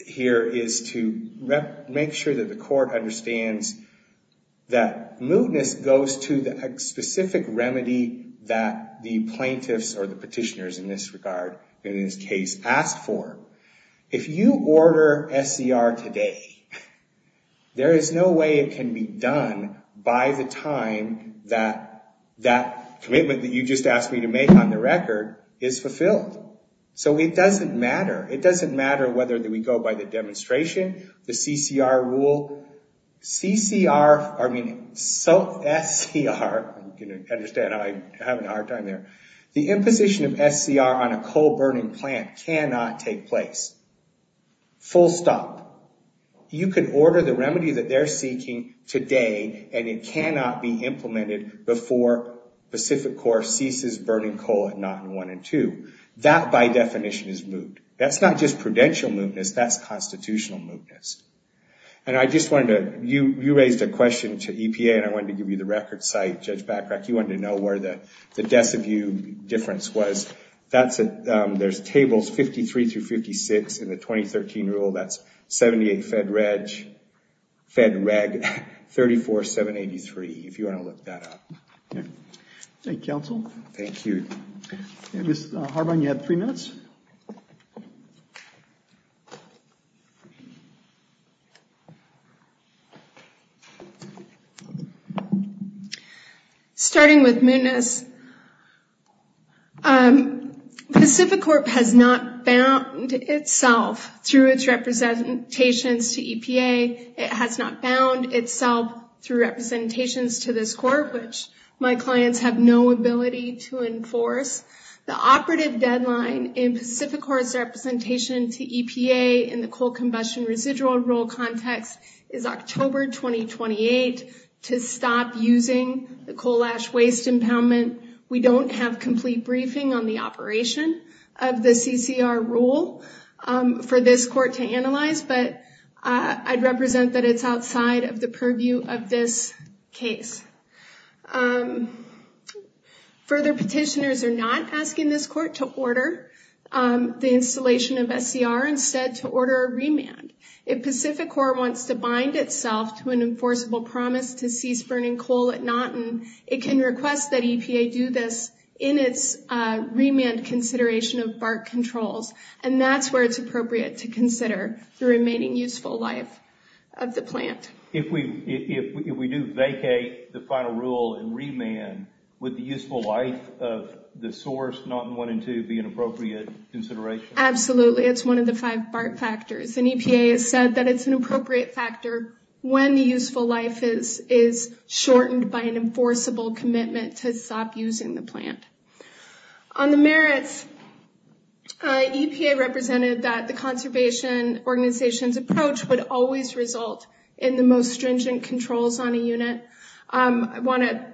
here is to make sure that the court understands that mootness goes to the specific remedy that the plaintiffs or the petitioners in this regard, in this case, asked for. If you order SCR today, there is no way it can be done by the time that that commitment that you just asked me to make on the record is fulfilled. So it doesn't matter. It doesn't matter whether we go by the demonstration, the CCR rule. CCR, I mean, SCR, you can understand how I'm having a hard time there. The imposition of SCR on a coal-burning plant cannot take place. Full stop. You could order the remedy that they're seeking today, and it cannot be implemented before Pacific Core ceases burning coal at knot one and two. That, by definition, is moot. That's not just prudential mootness. That's constitutional mootness. And I just wanted to, you raised a question to EPA, and I wanted to give you the record You wanted to know where the depth of view difference was. There's tables 53 through 56 in the 2013 rule. That's 78 Fed Reg, Fed Reg 34783, if you want to look that up. Thank you, counsel. Thank you. Ms. Harmon, you have three minutes. Starting with mootness, Pacific Core has not bound itself through its representations to EPA. It has not bound itself through representations to this court, which my clients have no ability to enforce. The operative deadline in Pacific Core's representation to EPA in the coal combustion residual rule context is October 2028 to stop using the coal ash waste impoundment. We don't have complete briefing on the operation of the CCR rule for this court to analyze, but I'd represent that it's outside of the purview of this case. Further, petitioners are not asking this court to order the installation of SDR. Instead, to order a remand. If Pacific Core wants to bind itself to an enforceable promise to cease burning coal at Naughton, it can request that EPA do this in its remand consideration of BART controls. And that's where it's appropriate to consider the remaining useful life of the plant. If we do vacate the final rule and remand, would the useful life of the source, Naughton 1 and 2, be an appropriate consideration? Absolutely. It's one of the five BART factors. And EPA has said that it's an appropriate factor when the useful life is shortened by an enforceable commitment to stop using the plant. On the merits, EPA represented that the conservation organization's approach would always result in the most stringent controls on a unit. I want to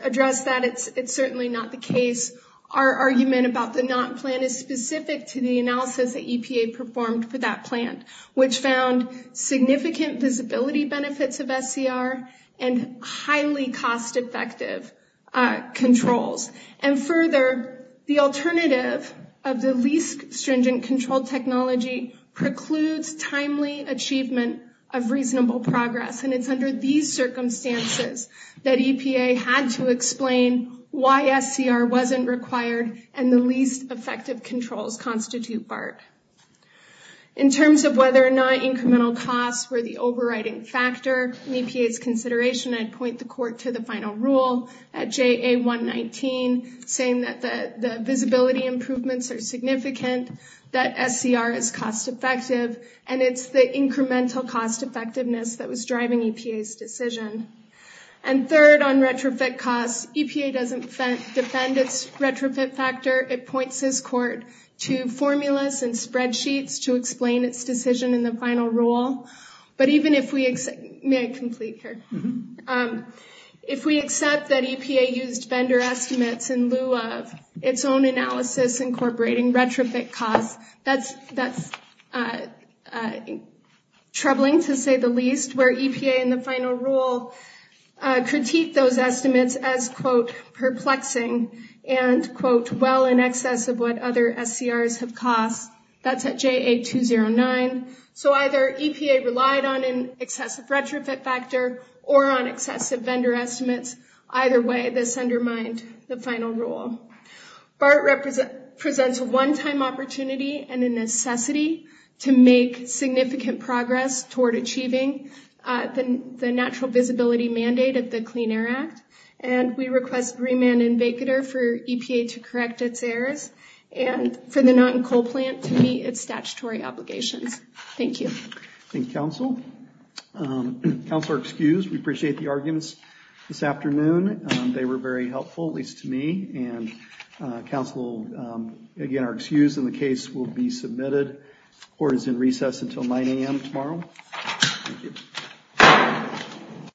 address that. It's certainly not the case. Our argument about the Naughton plan is specific to the analysis that EPA performed for that plant, which found significant visibility benefits of SDR and highly cost-effective controls. And further, the alternative of the least stringent control technology precludes timely achievement of reasonable progress. And it's under these circumstances that EPA had to explain why SDR wasn't required and the least effective controls constitute BART. In terms of whether or not incremental costs were the overriding factor in EPA's consideration, I'd point the court to the final rule at JA119, saying that the visibility improvements are significant, that SDR is cost-effective, and it's the incremental cost-effectiveness that was driving EPA's decision. And third, on retrofit costs, EPA doesn't defend its retrofit factor. It points this court to formulas and spreadsheets to explain its decision in the final rule. But even if we—may I complete here? If we accept that EPA used vendor estimates in lieu of its own analysis incorporating retrofit costs, that's troubling to say the least, where EPA in the final rule critiqued those estimates as, quote, perplexing and, quote, well in excess of what other SDRs have cost. That's at JA209. So either EPA relied on an excessive retrofit factor or on excessive vendor estimates. Either way, this undermined the final rule. BART presents a one-time opportunity and a necessity to make significant progress toward achieving the natural visibility mandate of the Clean Air Act. And we request Greenman and Baker for EPA to correct its errors and for the Norton coal plant to meet its statutory obligation. Thank you. Thank you, counsel. Counsel are excused. We appreciate the arguments this afternoon. They were very helpful, at least to me. And counsel, again, are excused, and the case will be submitted. The court is in recess until 9 a.m. tomorrow. Thank you.